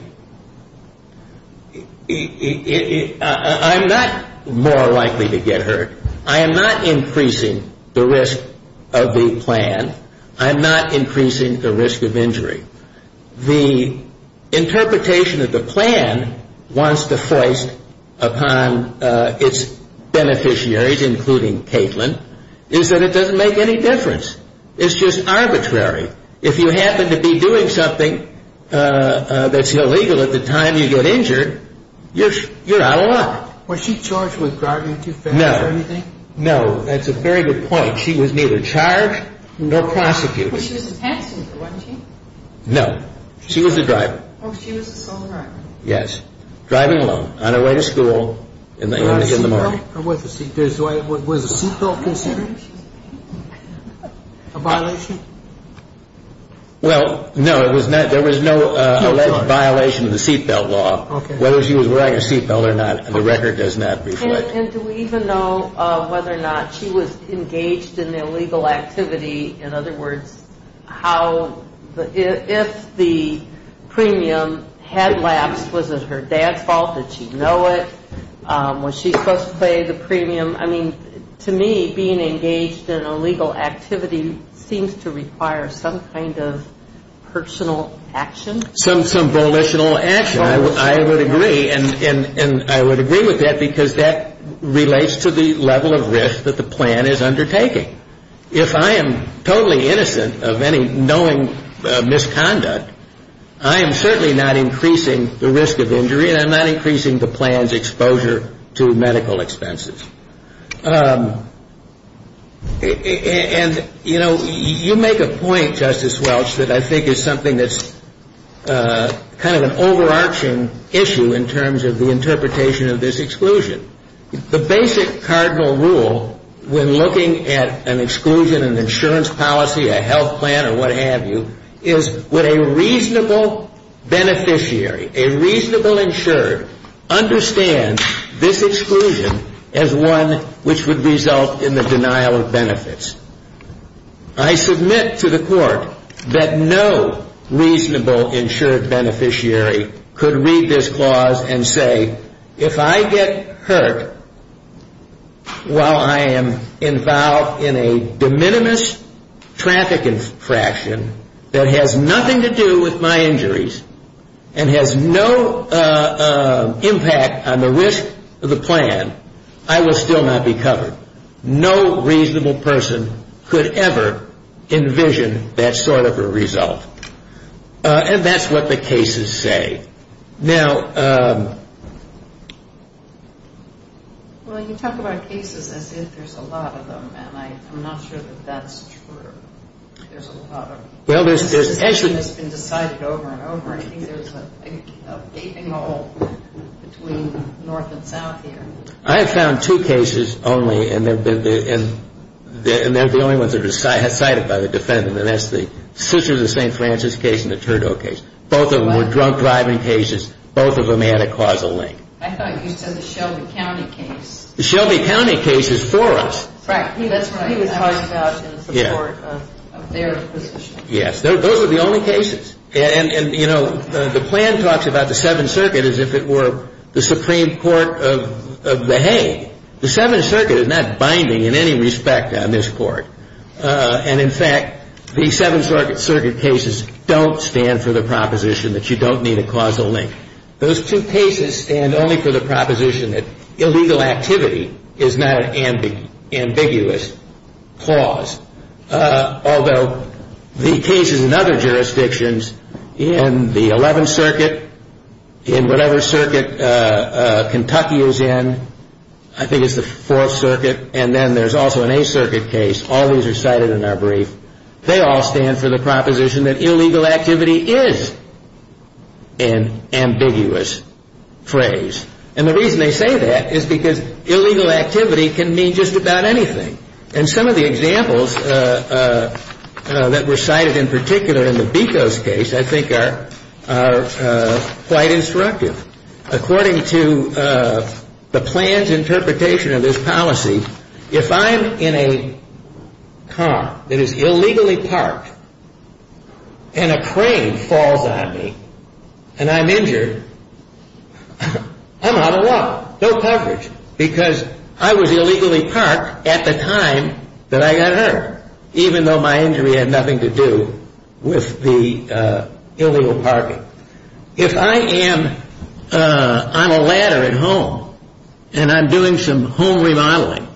I'm not more likely to get hurt. I am not increasing the risk of the plan. I'm not increasing the risk of injury. The interpretation of the plan wants to foist upon its beneficiaries, is that it doesn't make any difference. It's just arbitrary. If you happen to be doing something that's illegal at the time you get injured, you're out of luck. Was she charged with driving too fast or anything? No. No, that's a very good point. She was neither charged nor prosecuted. But she was a passenger, wasn't she? No. She was a driver. Oh, she was a driver. Yes. Driving alone, on her way to school in the morning. Was the seatbelt restriction a violation? Well, no. There was no alleged violation of the seatbelt law. Whether she was wearing a seatbelt or not, the record does not restrict. And do we even know whether or not she was engaged in illegal activity? In other words, if the premium had lapsed, was it her dad's fault? Did she know it? Was she supposed to pay the premium? I mean, to me, being engaged in illegal activity seems to require some kind of personal action. Some volitional action, I would agree. And I would agree with that because that relates to the level of risk that the plan is undertaking. If I am totally innocent of any knowing misconduct, I am certainly not increasing the risk of injury and I'm not increasing the plan's exposure to medical expenses. And, you know, you make a point, Justice Welch, that I think is something that's kind of an overarching issue in terms of the interpretation of this exclusion. The basic cardinal rule when looking at an exclusion, an insurance policy, a health plan, or what have you, is would a reasonable beneficiary, a reasonable insured, understand this exclusion as one which would result in the denial of benefits? I submit to the court that no reasonable insured beneficiary could read this clause and say, if I get hurt while I am involved in a de minimis trafficking fraction that has nothing to do with my injuries and has no impact on the risk of the plan, I will still not be covered. No reasonable person could ever envision that sort of a result. And that's what the cases say. Now... Well, when you talk about cases, I think there's a lot of them, and I'm not sure that that's true. There's a lot of them. Well, there's actually... It's been decided over and over again that there's a gaping hole between north and south here. I found two cases only, and they're the only ones that were cited by the defense in the last three. The St. Francis case and the Trudeau case. Both of them were drunk driving cases. Both of them had a causal link. I thought you said the Shelby County case. The Shelby County case is for us. That's what he was talking about in support of their position. Yes. Those were the only cases. And, you know, the plan talks about the Seventh Circuit as if it were the Supreme Court of the Hague. The Seventh Circuit is not binding in any respect on this court. And, in fact, the Seventh Circuit cases don't stand for the proposition that you don't need a causal link. Those two cases stand only for the proposition that illegal activity is not an ambiguous clause, although the cases in other jurisdictions in the Eleventh Circuit, in whatever circuit Kentucky is in, I think it's the Fourth Circuit, and then there's also an Eighth Circuit case. All of those are cited in our brief. They all stand for the proposition that illegal activity is an ambiguous phrase. And the reason they say that is because illegal activity can mean just about anything. And some of the examples that were cited in particular in the Becos case, I think, are quite instructive. According to the planned interpretation of this policy, if I'm in a car that is illegally parked, and a crane falls on me, and I'm injured, I'm out of water. No coverage. Because I was illegally parked at the time that I got hurt, even though my injury had nothing to do with the illegal parking. If I am on a ladder at home, and I'm doing some home remodeling,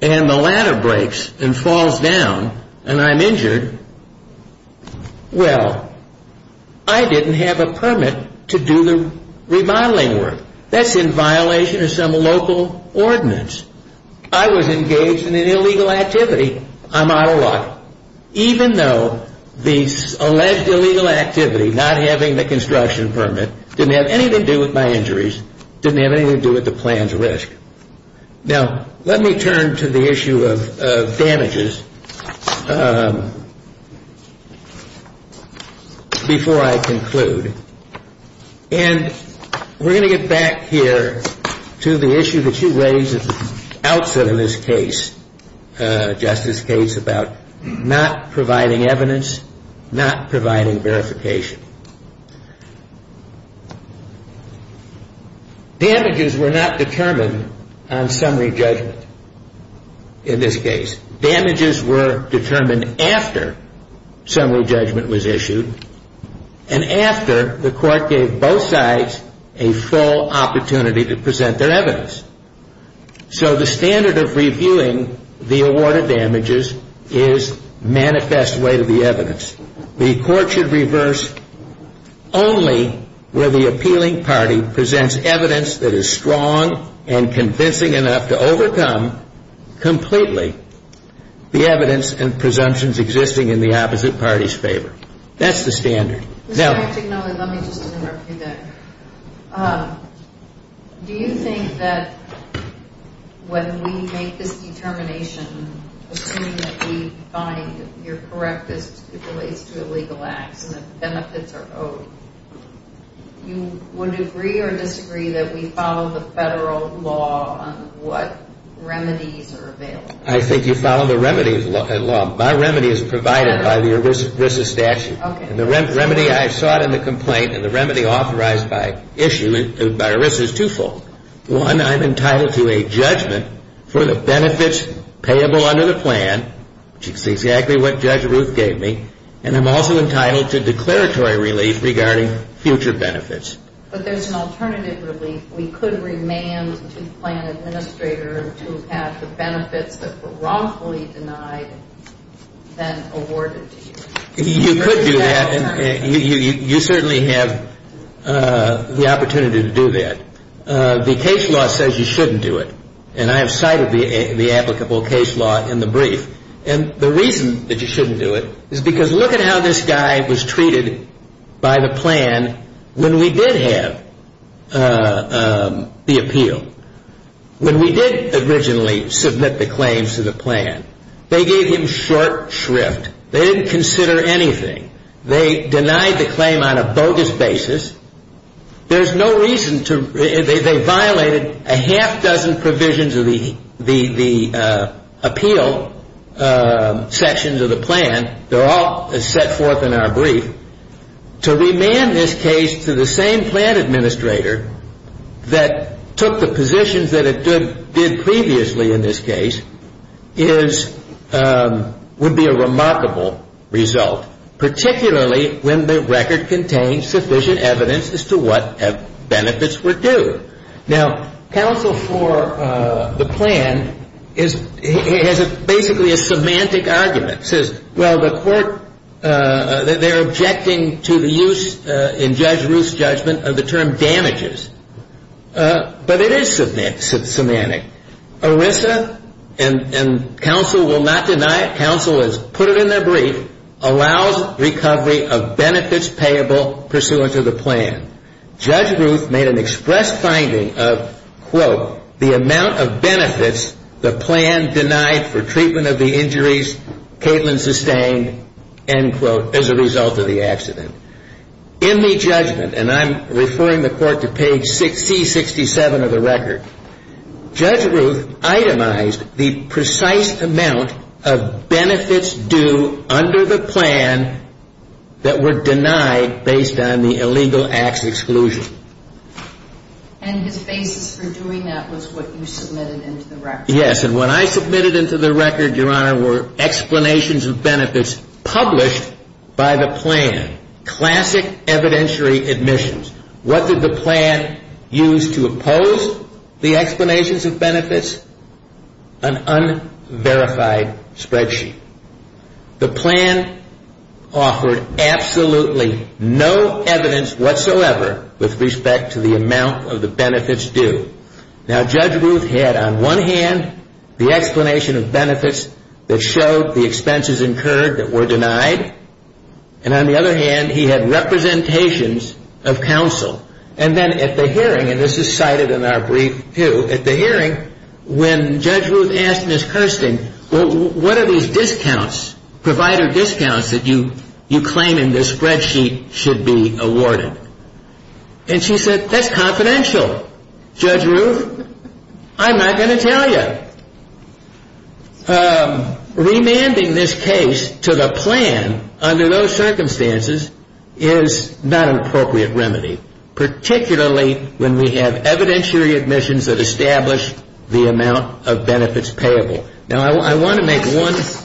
and the ladder breaks and falls down, and I'm injured, well, I didn't have a permit to do the remodeling work. That's in violation of some local ordinance. I was engaged in an illegal activity. I'm out of water. Even though the alleged illegal activity, not having the construction permit, didn't have anything to do with my injuries, didn't have anything to do with the planned risk. Now, let me turn to the issue of damages before I conclude. And we're going to get back here to the issue that you raised at the outset of this case, Justice's case, about not providing evidence, not providing verification. Damages were not determined on summary judgment in this case. Damages were determined after summary judgment was issued, and after the court gave both sides a full opportunity to present their evidence. So the standard of reviewing the award of damages is manifest way to the evidence. The court should reverse only where the appealing party presents evidence that is strong and convincing enough to overcome completely the evidence and presumptions existing in the opposite party's favor. That's the standard. Let me just interrupt you there. Do you think that when we make this determination, as soon as we find that you're correct as it relates to illegal acts and the benefits are owed, you would agree or disagree that we follow the federal law on what remedies are available? I think you follow the remedies in the federal law. My remedy is provided by the arrears of business action. Okay. The remedy I sought in the complaint and the remedy authorized by issue, by arrears, is twofold. One, I'm entitled to a judgment for the benefits payable under the plan, which is exactly what Judge Ruth gave me, and I'm also entitled to declaratory relief regarding future benefits. But there's an alternative relief. We could remand the plan administrator to pass a benefit that's wrongfully denied, then awarded to you. You could do that, and you certainly have the opportunity to do that. The case law says you shouldn't do it, and I have cited the applicable case law in the brief. And the reason that you shouldn't do it is because look at how this guy was treated by the plan when we did have the appeal. When we did originally submit the claims to the plan, they gave him short shrift. They didn't consider anything. They denied the claim on a bogus basis. They violated a half dozen provisions of the appeal sections of the plan. They're all set forth in our brief. To remand this case to the same plan administrator that took the positions that it did previously in this case would be a remarkable result, particularly when the record contains sufficient evidence as to what benefits were due. Now, counsel for the plan has basically a semantic argument. It says, well, they're objecting to the use in Judge Ruth's judgment of the term damages. But it is semantic. Orissa, and counsel will not deny it, counsel has put it in their brief, allows recovery of benefits payable pursuant to the plan. Judge Ruth made an express finding of, quote, the amount of benefits the plan denied for treatment of the injuries Caitlin sustained, end quote, as a result of the accident. In the judgment, and I'm referring the court to page 60-67 of the record, Judge Ruth itemized the precise amount of benefits due under the plan that were denied based on the illegal acts exclusion. And his basis for doing that was what you submitted into the record. Yes, and what I submitted into the record, Your Honor, were explanations of benefits published by the plan. Classic evidentiary admissions. What did the plan use to oppose the explanations of benefits? An unverified spreadsheet. The plan offered absolutely no evidence whatsoever with respect to the amount of the benefits due. Now, Judge Ruth had on one hand the explanation of benefits that showed the expenses incurred that were denied. And on the other hand, he had representations of counsel. And then at the hearing, and this is cited in our brief too, at the hearing, when Judge Ruth asked Ms. Kirsten, well, what are these discounts, provider discounts that you claim in this spreadsheet should be awarded? And she said, that's confidential, Judge Ruth. I'm not going to tell you. Remanding this case to the plan under those circumstances is not an appropriate remedy, particularly when we have evidentiary admissions that establish the amount of benefits payable. Now, I want to make one point.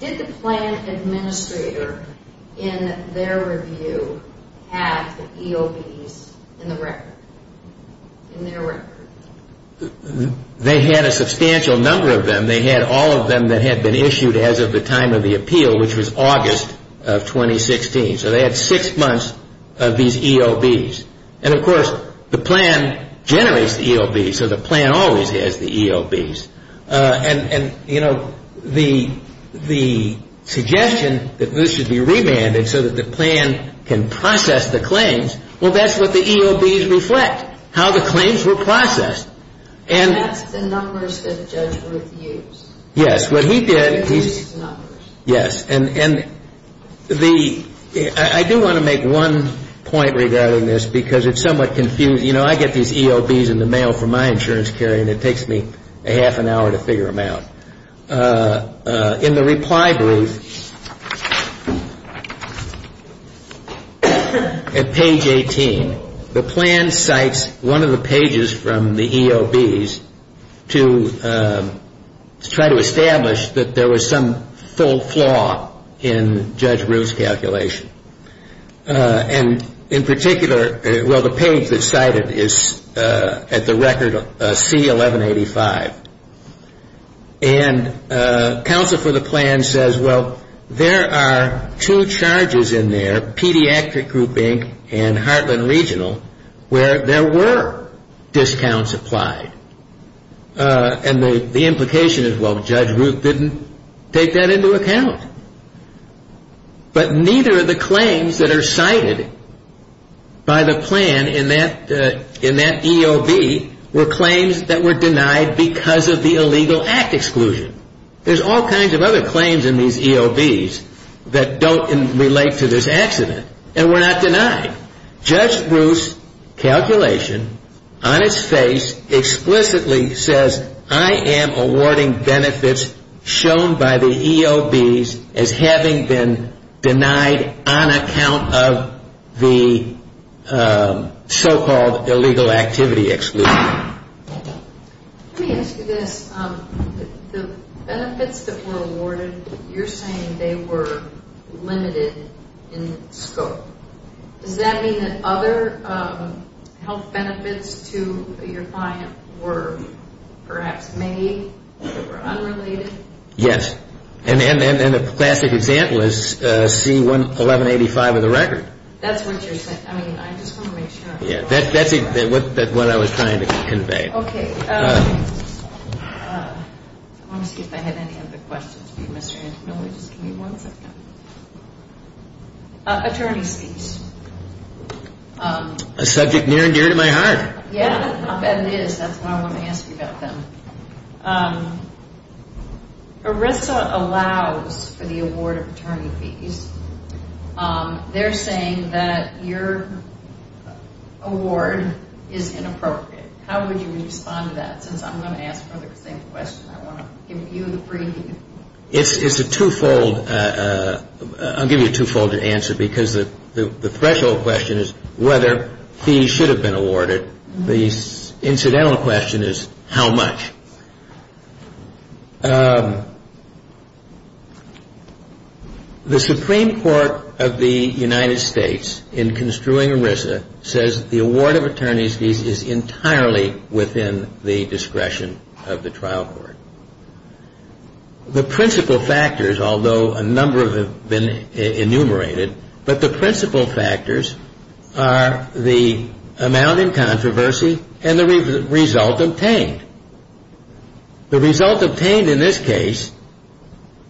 Did the plan administrator in their review have the EOBs in their record? They had a substantial number of them. They had all of them that had been issued as of the time of the appeal, which was August of 2016. So, they had six months of these EOBs. And, of course, the plan generates the EOBs, so the plan always has the EOBs. And, you know, the suggestion that this should be remanded so that the plan can process the claims, well, that's what the EOBs reflect, how the claims were processed. And that's the numbers that Judge Ruth used. Yes, what he did, yes. Yes, and I do want to make one point regarding this because it's somewhat confusing. You know, I get these EOBs in the mail for my insurance carry and it takes me a half an hour to figure them out. In the reply brief at page 18, the plan cites one of the pages from the EOBs to try to establish that there was some full flaw in Judge Ruth's calculation. And in particular, well, the page that's cited is at the record C1185. And counsel for the plan says, well, there are two charges in there, Pediatric Group, Inc., and Heartland Regional, where there were discounts applied. And the implication is, well, Judge Ruth didn't take that into account. But neither of the claims that are cited by the plan in that EOB were claims that were denied because of the illegal act exclusion. There's all kinds of other claims in these EOBs that don't relate to this accident and were not denied. Judge Ruth's calculation on its face explicitly says, I am awarding benefits shown by the EOBs as having been denied on account of the so-called illegal activity exclusion. Let me ask you this. The benefits that were awarded, you're saying they were limited in scope. Does that mean that other health benefits to your client were perhaps made or unrelated? Yes. And the classic example is C1185 of the record. That's what you're saying. I mean, I just want to make sure. That's what I was trying to convey. Okay. Let me see if I have any other questions. Attorney fees. A subject near and dear to my heart. Yes, I'll bet it is. That's why I'm asking about them. ERISA allows for the award of attorney fees. They're saying that your award is inappropriate. How would you respond to that? Since I'm going to ask them the same question, I want to give you the free view. It's a twofold. I'll give you a twofold answer because the threshold question is whether fees should have been awarded. The incidental question is how much. The Supreme Court of the United States, in construing ERISA, says the award of attorney fees is entirely within the discretion of the trial court. The principal factors, although a number of them have been enumerated, but the principal factors are the amount in controversy and the result obtained. The result obtained in this case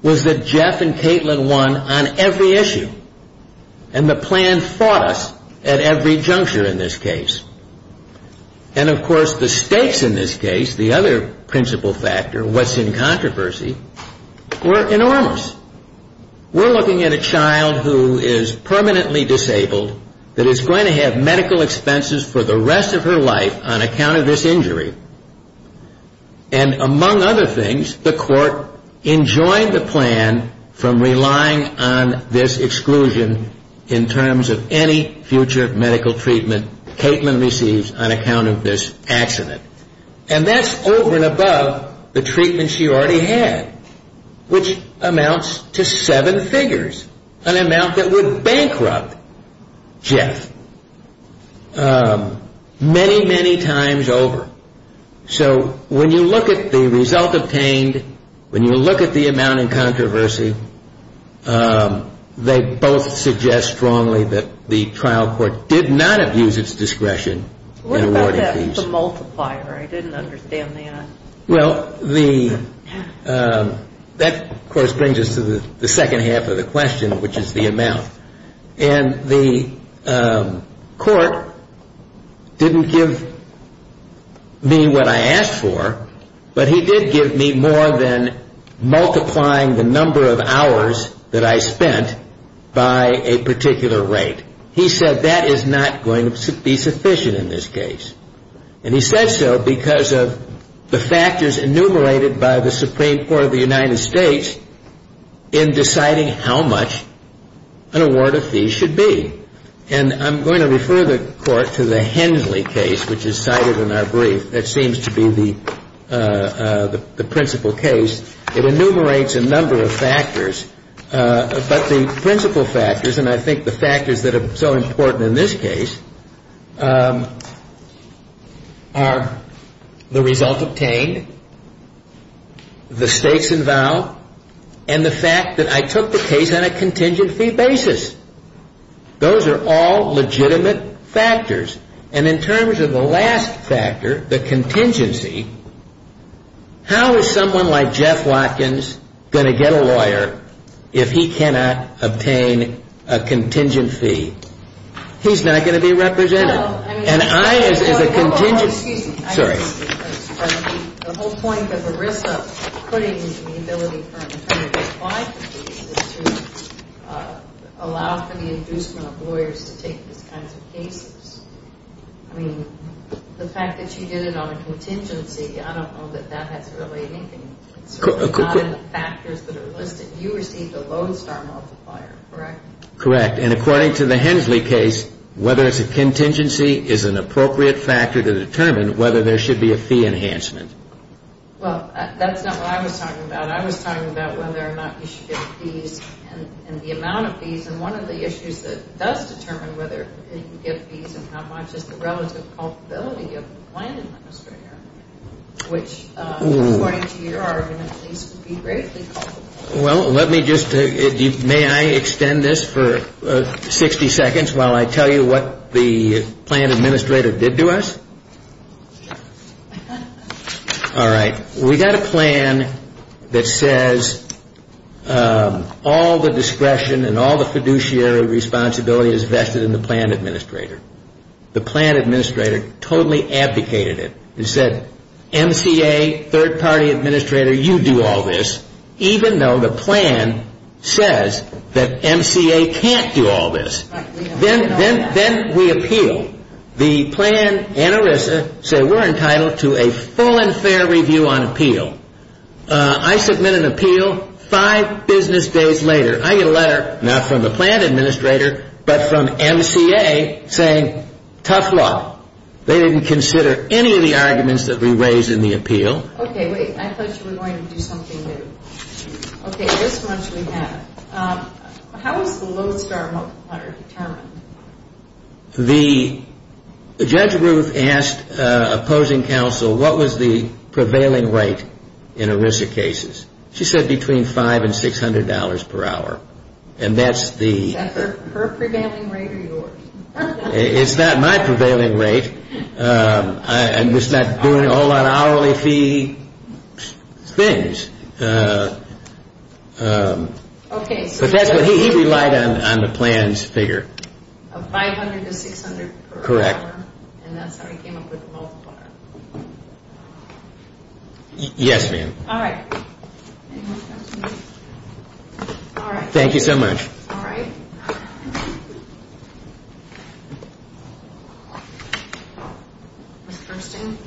was that Jeff and Caitlin won on every issue, and the plan fought us at every juncture in this case. And, of course, the stakes in this case, the other principal factor, what's in controversy, were enormous. We're looking at a child who is permanently disabled that is going to have medical expenses for the rest of her life on account of this injury. And, among other things, the court enjoyed the plan from relying on this exclusion in terms of any future medical treatment Caitlin receives on account of this accident. And that's over and above the treatment she already had, which amounts to seven figures, an amount that would bankrupt Jeff many, many times over. So, when you look at the result obtained, when you look at the amount in controversy, they both suggest strongly that the trial court did not abuse its discretion in awarding fees. What about the multiplier? I didn't understand that. Well, that, of course, brings us to the second half of the question, which is the amount. And the court didn't give me what I asked for, but he did give me more than multiplying the number of hours that I spent by a particular rate. He said that is not going to be sufficient in this case. And he said so because of the factors enumerated by the Supreme Court of the United States in deciding how much an award of fees should be. And I'm going to refer the court to the Hensley case, which is cited in our brief. That seems to be the principal case. It enumerates a number of factors, but the principal factors, and I think the factors that are so important in this case, are the result obtained, the stakes involved, and the fact that I took the case on a contingency basis. Those are all legitimate factors. And in terms of the last factor, the contingency, how is someone like Jeff Watkins going to get a lawyer if he cannot obtain a contingency? He's not going to be represented. And I, as a contingency... I don't know that that has to relate to anything. It's not in the factors that are listed. You received a Lodestar multiplier, correct? Correct, and according to the Hensley case, whether it's a contingency is an appropriate factor to determine whether there should be a fee enhancement. Well, that's not what I was talking about. I was talking about whether or not he should get fees and the amount of fees. And one of the issues that does determine whether he gets fees and how much is the relative culpability of the plan administrator, which according to your argument seems to be very simple. Well, let me just... May I extend this for 60 seconds while I tell you what the plan administrator did to us? All right. We got a plan that says all the discretion and all the fiduciary responsibility is vested in the plan administrator. The plan administrator totally abdicated it. He said, MCA, third-party administrator, you do all this, even though the plan says that MCA can't do all this. Then we appeal. We appeal. The plan and ERISA say we're entitled to a full and fair review on appeal. I submit an appeal five business days later. I get a letter, not from the plan administrator, but from MCA saying, tough luck. They didn't consider any of the arguments that we raised in the appeal. Okay, wait. I thought you were going to do something new. Okay, this one should be better. How was the Lodestar multiplier determined? The judge group asked opposing counsel what was the prevailing rate in ERISA cases. She said between $500 and $600 per hour. And that's the... That's her prevailing rate or yours? It's not my prevailing rate. I'm just not doing all that hourly fee things. Okay. But he relied on the plan's figure. Of $500 and $600 per hour. Correct. And that's how he came up with the multiplier. Yes, ma'am. All right. Thank you so much. All right. Ms. Kersten?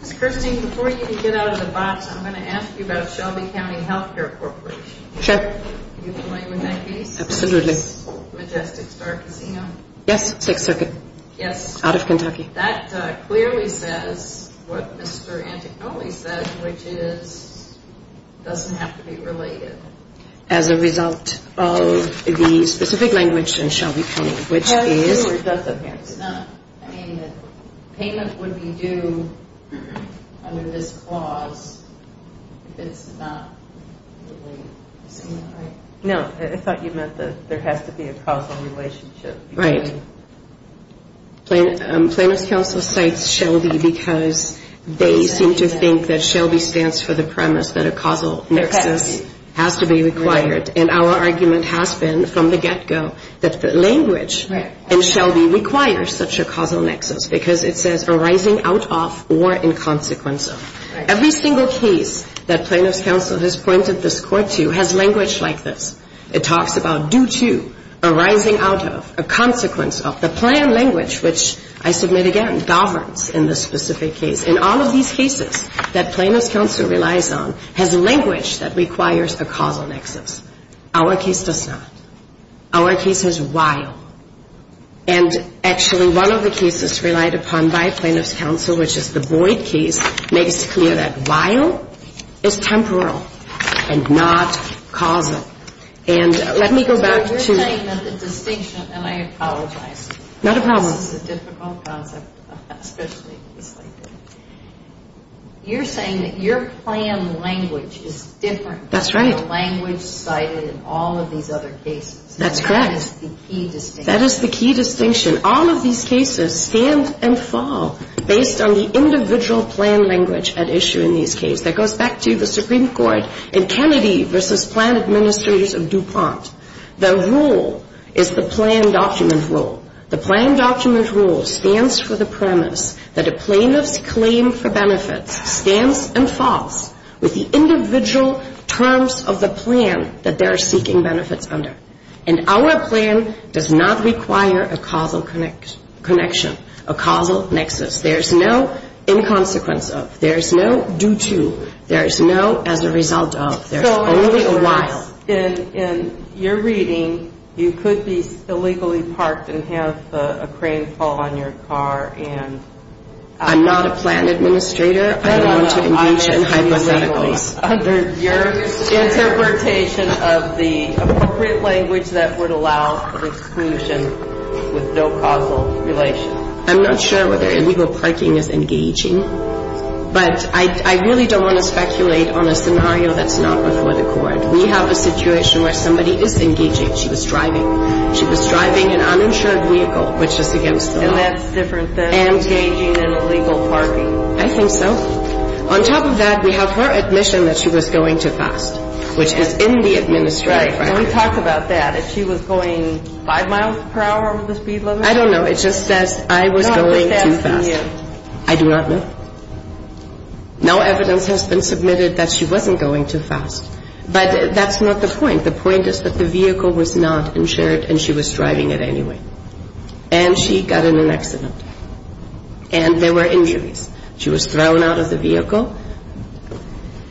Ms. Kersten, before you get out of the box, I'm going to ask you about Shelby County Healthcare Corporation. Sure. Do you mind when I speak? Absolutely. Majestic Star Casino? Yes, Sixth Circuit. Yes. Out of Kentucky. That clearly says what Mr. Anticoni says, which is, doesn't have to be related. As a result of the specific language in Shelby County, which is... As a result of it, not payment. Payment would be due under this clause. It's not related. No. I thought you meant that there has to be a causal relationship. Right. Plaintiff's counsel cites Shelby because they seem to think that Shelby stands for the premise that a causal nexus has to be required. And our argument has been from the get-go that language in Shelby requires such a causal nexus because it says arising out of or in consequence of. Every single case that plaintiff's counsel has pointed this court to has language like this. It talks about due to, arising out of, a consequence of, a planned language, which I submit again, governs in this specific case. And all of these cases that plaintiff's counsel relies on have language that requires a causal nexus. Our case does not. Our case is vile. And actually, one of the cases relied upon by plaintiff's counsel, which is the Boyd case, makes it clear that vile is temporal and not causal. And let me go back to... You're saying that the distinction, and I apologize. Not a problem. It's just a fun concept. You're saying that your planned language is different... That's right. ...from the language cited in all of these other cases. That's correct. That is the key distinction. That is the key distinction. All of these cases stand and fall based on the individual planned language at issue in these cases. That goes back to the Supreme Court in Kennedy v. Planned Administrators of DuPont. The rule is the planned document rule. The planned document rule stands for the premise that a plaintiff's claim for benefit stands and falls with the individual terms of the plan that they're seeking benefits under. And our plan does not require a causal connection, a causal nexus. There's no in-consequence of. There's no do-to. There's no as a result of. There's only a while. So in your reading, you could be illegally parked and have a crane fall on your car and... I'm not a planned administrator. I don't want to mention hypothetically. Your interpretation of the appropriate language that would allow for exclusion with no causal relation. I'm not sure whether illegal parking is engaging. But I really don't want to speculate on a scenario that's not before the court. We have a situation where somebody is engaging. She was driving. She was driving an uninsured vehicle. And that's a different thing. Engaging in illegal parking. I think so. On top of that, we have her admission that she was going too fast, which is in the administrative record. Can we talk about that, that she was going five miles per hour with the speed limit? I don't know. It just says I was going too fast. I do not know. No evidence has been submitted that she wasn't going too fast. But that's not the point. The point is that the vehicle was not insured and she was driving it anyway. And she got in an accident. And there were injuries. She was thrown out of the vehicle.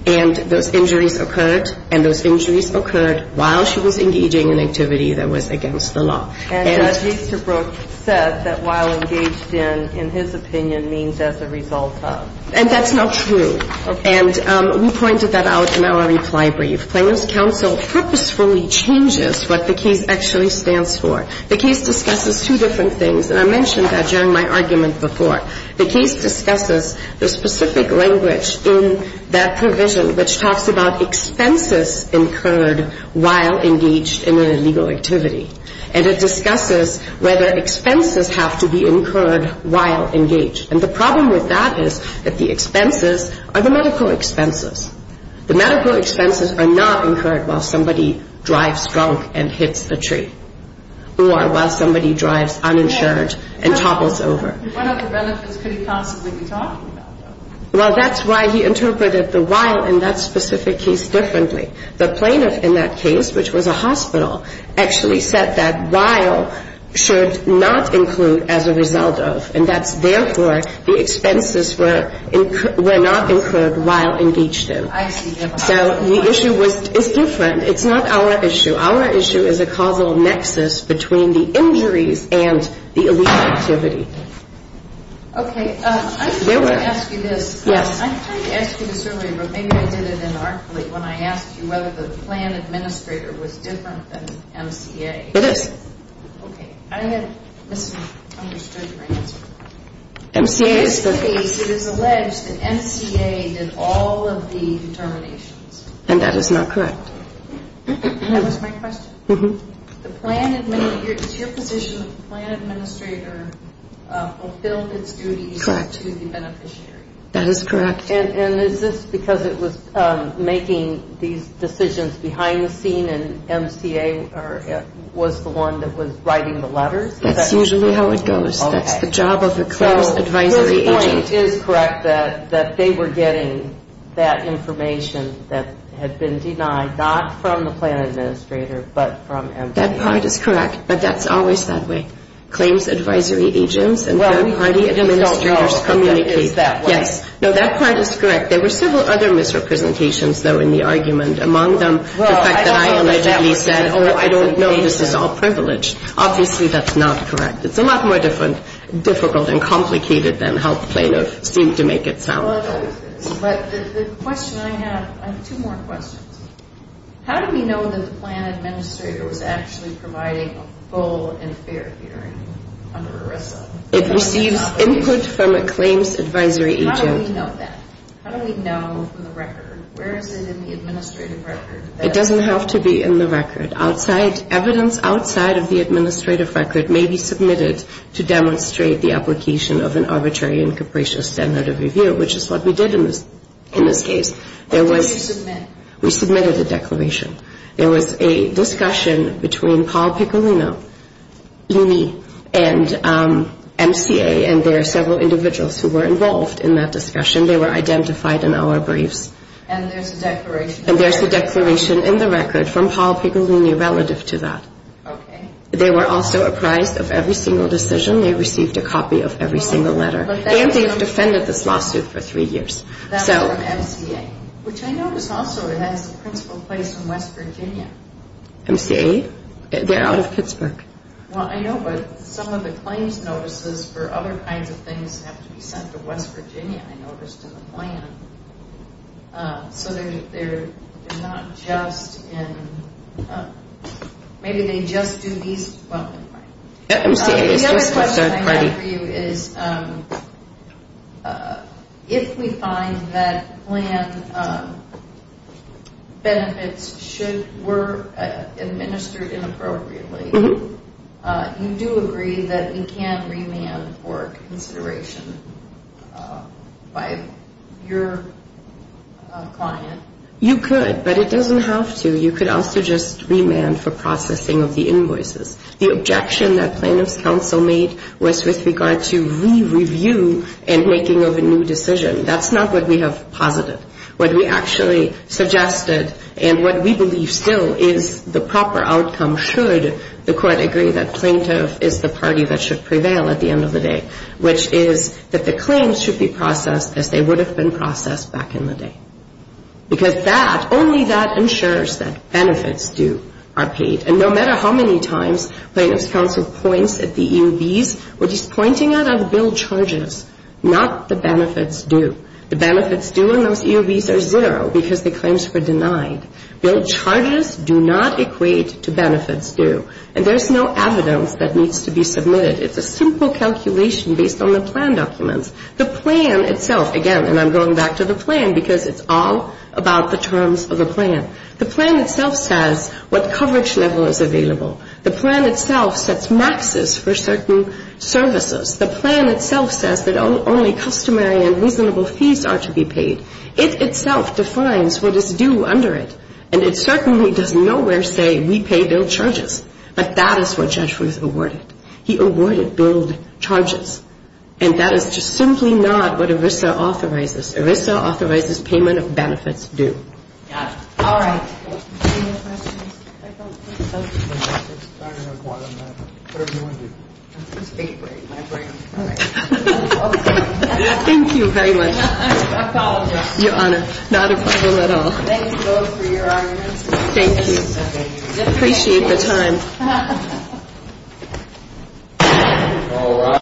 And those injuries occurred. And those injuries occurred while she was engaging in activity that was against the law. And Justice Brooks said that while engaged in, in his opinion, means as a result of. And that's not true. And we pointed that out in our reply brief. Plaintiff's counsel purposefully changes what the case actually stands for. The case discusses two different things. And I mentioned that during my argument before. The case discusses the specific language in that provision which talks about expenses incurred while engaged in an illegal activity. And it discusses whether expenses have to be incurred while engaged. And the problem with that is that the expenses are the medical expenses. The medical expenses are not incurred while somebody drives drunk and hits the tree. Or while somebody drives uninsured and toggles over. It's one of the benefits that he talked about. Well, that's why he interpreted the while in that specific case differently. The plaintiff in that case, which was a hospital, actually said that while should not include as a result of. And that, therefore, the expenses were not incurred while engaged in. So the issue is different. It's not our issue. Our issue is a causal nexus between the injuries and the illegal activity. Okay. I'm just going to ask you this. Yeah. I actually remember when I asked you whether the plan administrator was different than MTA. It is. Okay. I have misunderstood your answer. MTA is the page. It is alleged that MTA did all of the determinations. And that is not correct. That was my question. Mm-hmm. Is your position that the plan administrator fulfilled his duty to the beneficiary? Correct. That is correct. And is this because it was making these decisions behind the scene and MTA was the one that was writing the letter? That's usually how it goes. Okay. It's the job of the clerk. It is correct that they were getting that information that had been denied, not from the plan administrator, but from MTA. That part is correct. But that's always that way. Claims advisory agents and third party administrators communicate. No, that part is correct. There were several other misrepresentations, though, in the argument. Among them, the fact that I allegedly said, oh, I don't know. This is all privilege. Obviously, that's not correct. It's a lot more difficult and complicated than how plaintiffs seem to make it sound. But there's a question I have. I have two more questions. How do we know that the plan administrator was actually providing a full and fair hearing under ERISA? It receives input from a claims advisory agent. How do we know that? How do we know from the record? Where is it in the administrative record? It doesn't have to be in the record. Evidence outside of the administrative record may be submitted to demonstrate the application of an arbitrary and capricious standard of review, which is what we did in this case. What did you submit? We submitted a declaration. There was a discussion between Paul Piccolino, E&E, and MCA, and there are several individuals who were involved in that discussion. They were identified in our brief. And there's the declaration. And there's a declaration in the record from Paul Piccolino relative to that. Okay. They were also apprised of every single decision. They received a copy of every single letter. And they've defended this lawsuit for three years. That was MCA, which I know is also in the principal place in West Virginia. MCA? They're out of Pittsburgh. Well, I know, but some of the claims notices for other kinds of things have to be sent to West Virginia, I noticed in the plan. So they're not just in – maybe they just do these. The other question I have for you is if we find that plan benefits were administered inappropriately, do you agree that you can remand for consideration by your client? You could, but it doesn't have to. You could also just remand for processing of the invoices. The objection that plaintiff's counsel made was with regard to re-review and making of a new decision. That's not what we have posited. What we actually suggested and what we believe still is the proper outcome should the court agree that plaintiff is the party that should prevail at the end of the day, which is that the claims should be processed as they would have been processed back in the day. Because that, only that ensures that benefits are paid. And no matter how many times plaintiff's counsel points at the EUDs, what he's pointing at are the bill charges, not the benefits due. The benefits due among EUDs are zero because the claims were denied. Bill charges do not equate to benefits due. And there's no evidence that needs to be submitted. It's a simple calculation based on the plan documents. The plan itself, again, and I'm going back to the plan because it's all about the terms of the plan. The plan itself says what coverage level is available. The plan itself sets maxes for certain services. The plan itself says that only customary and reasonable fees are to be paid. It itself defines what is due under it. And it certainly does nowhere say we pay bill charges. But that is what Jeshua is awarded. He awarded bill charges. And that is just simply not what ERISA authorizes. ERISA authorizes payment of benefits due. All right. Thank you very much, Your Honor. Not a problem at all. Thank you. Appreciate your time.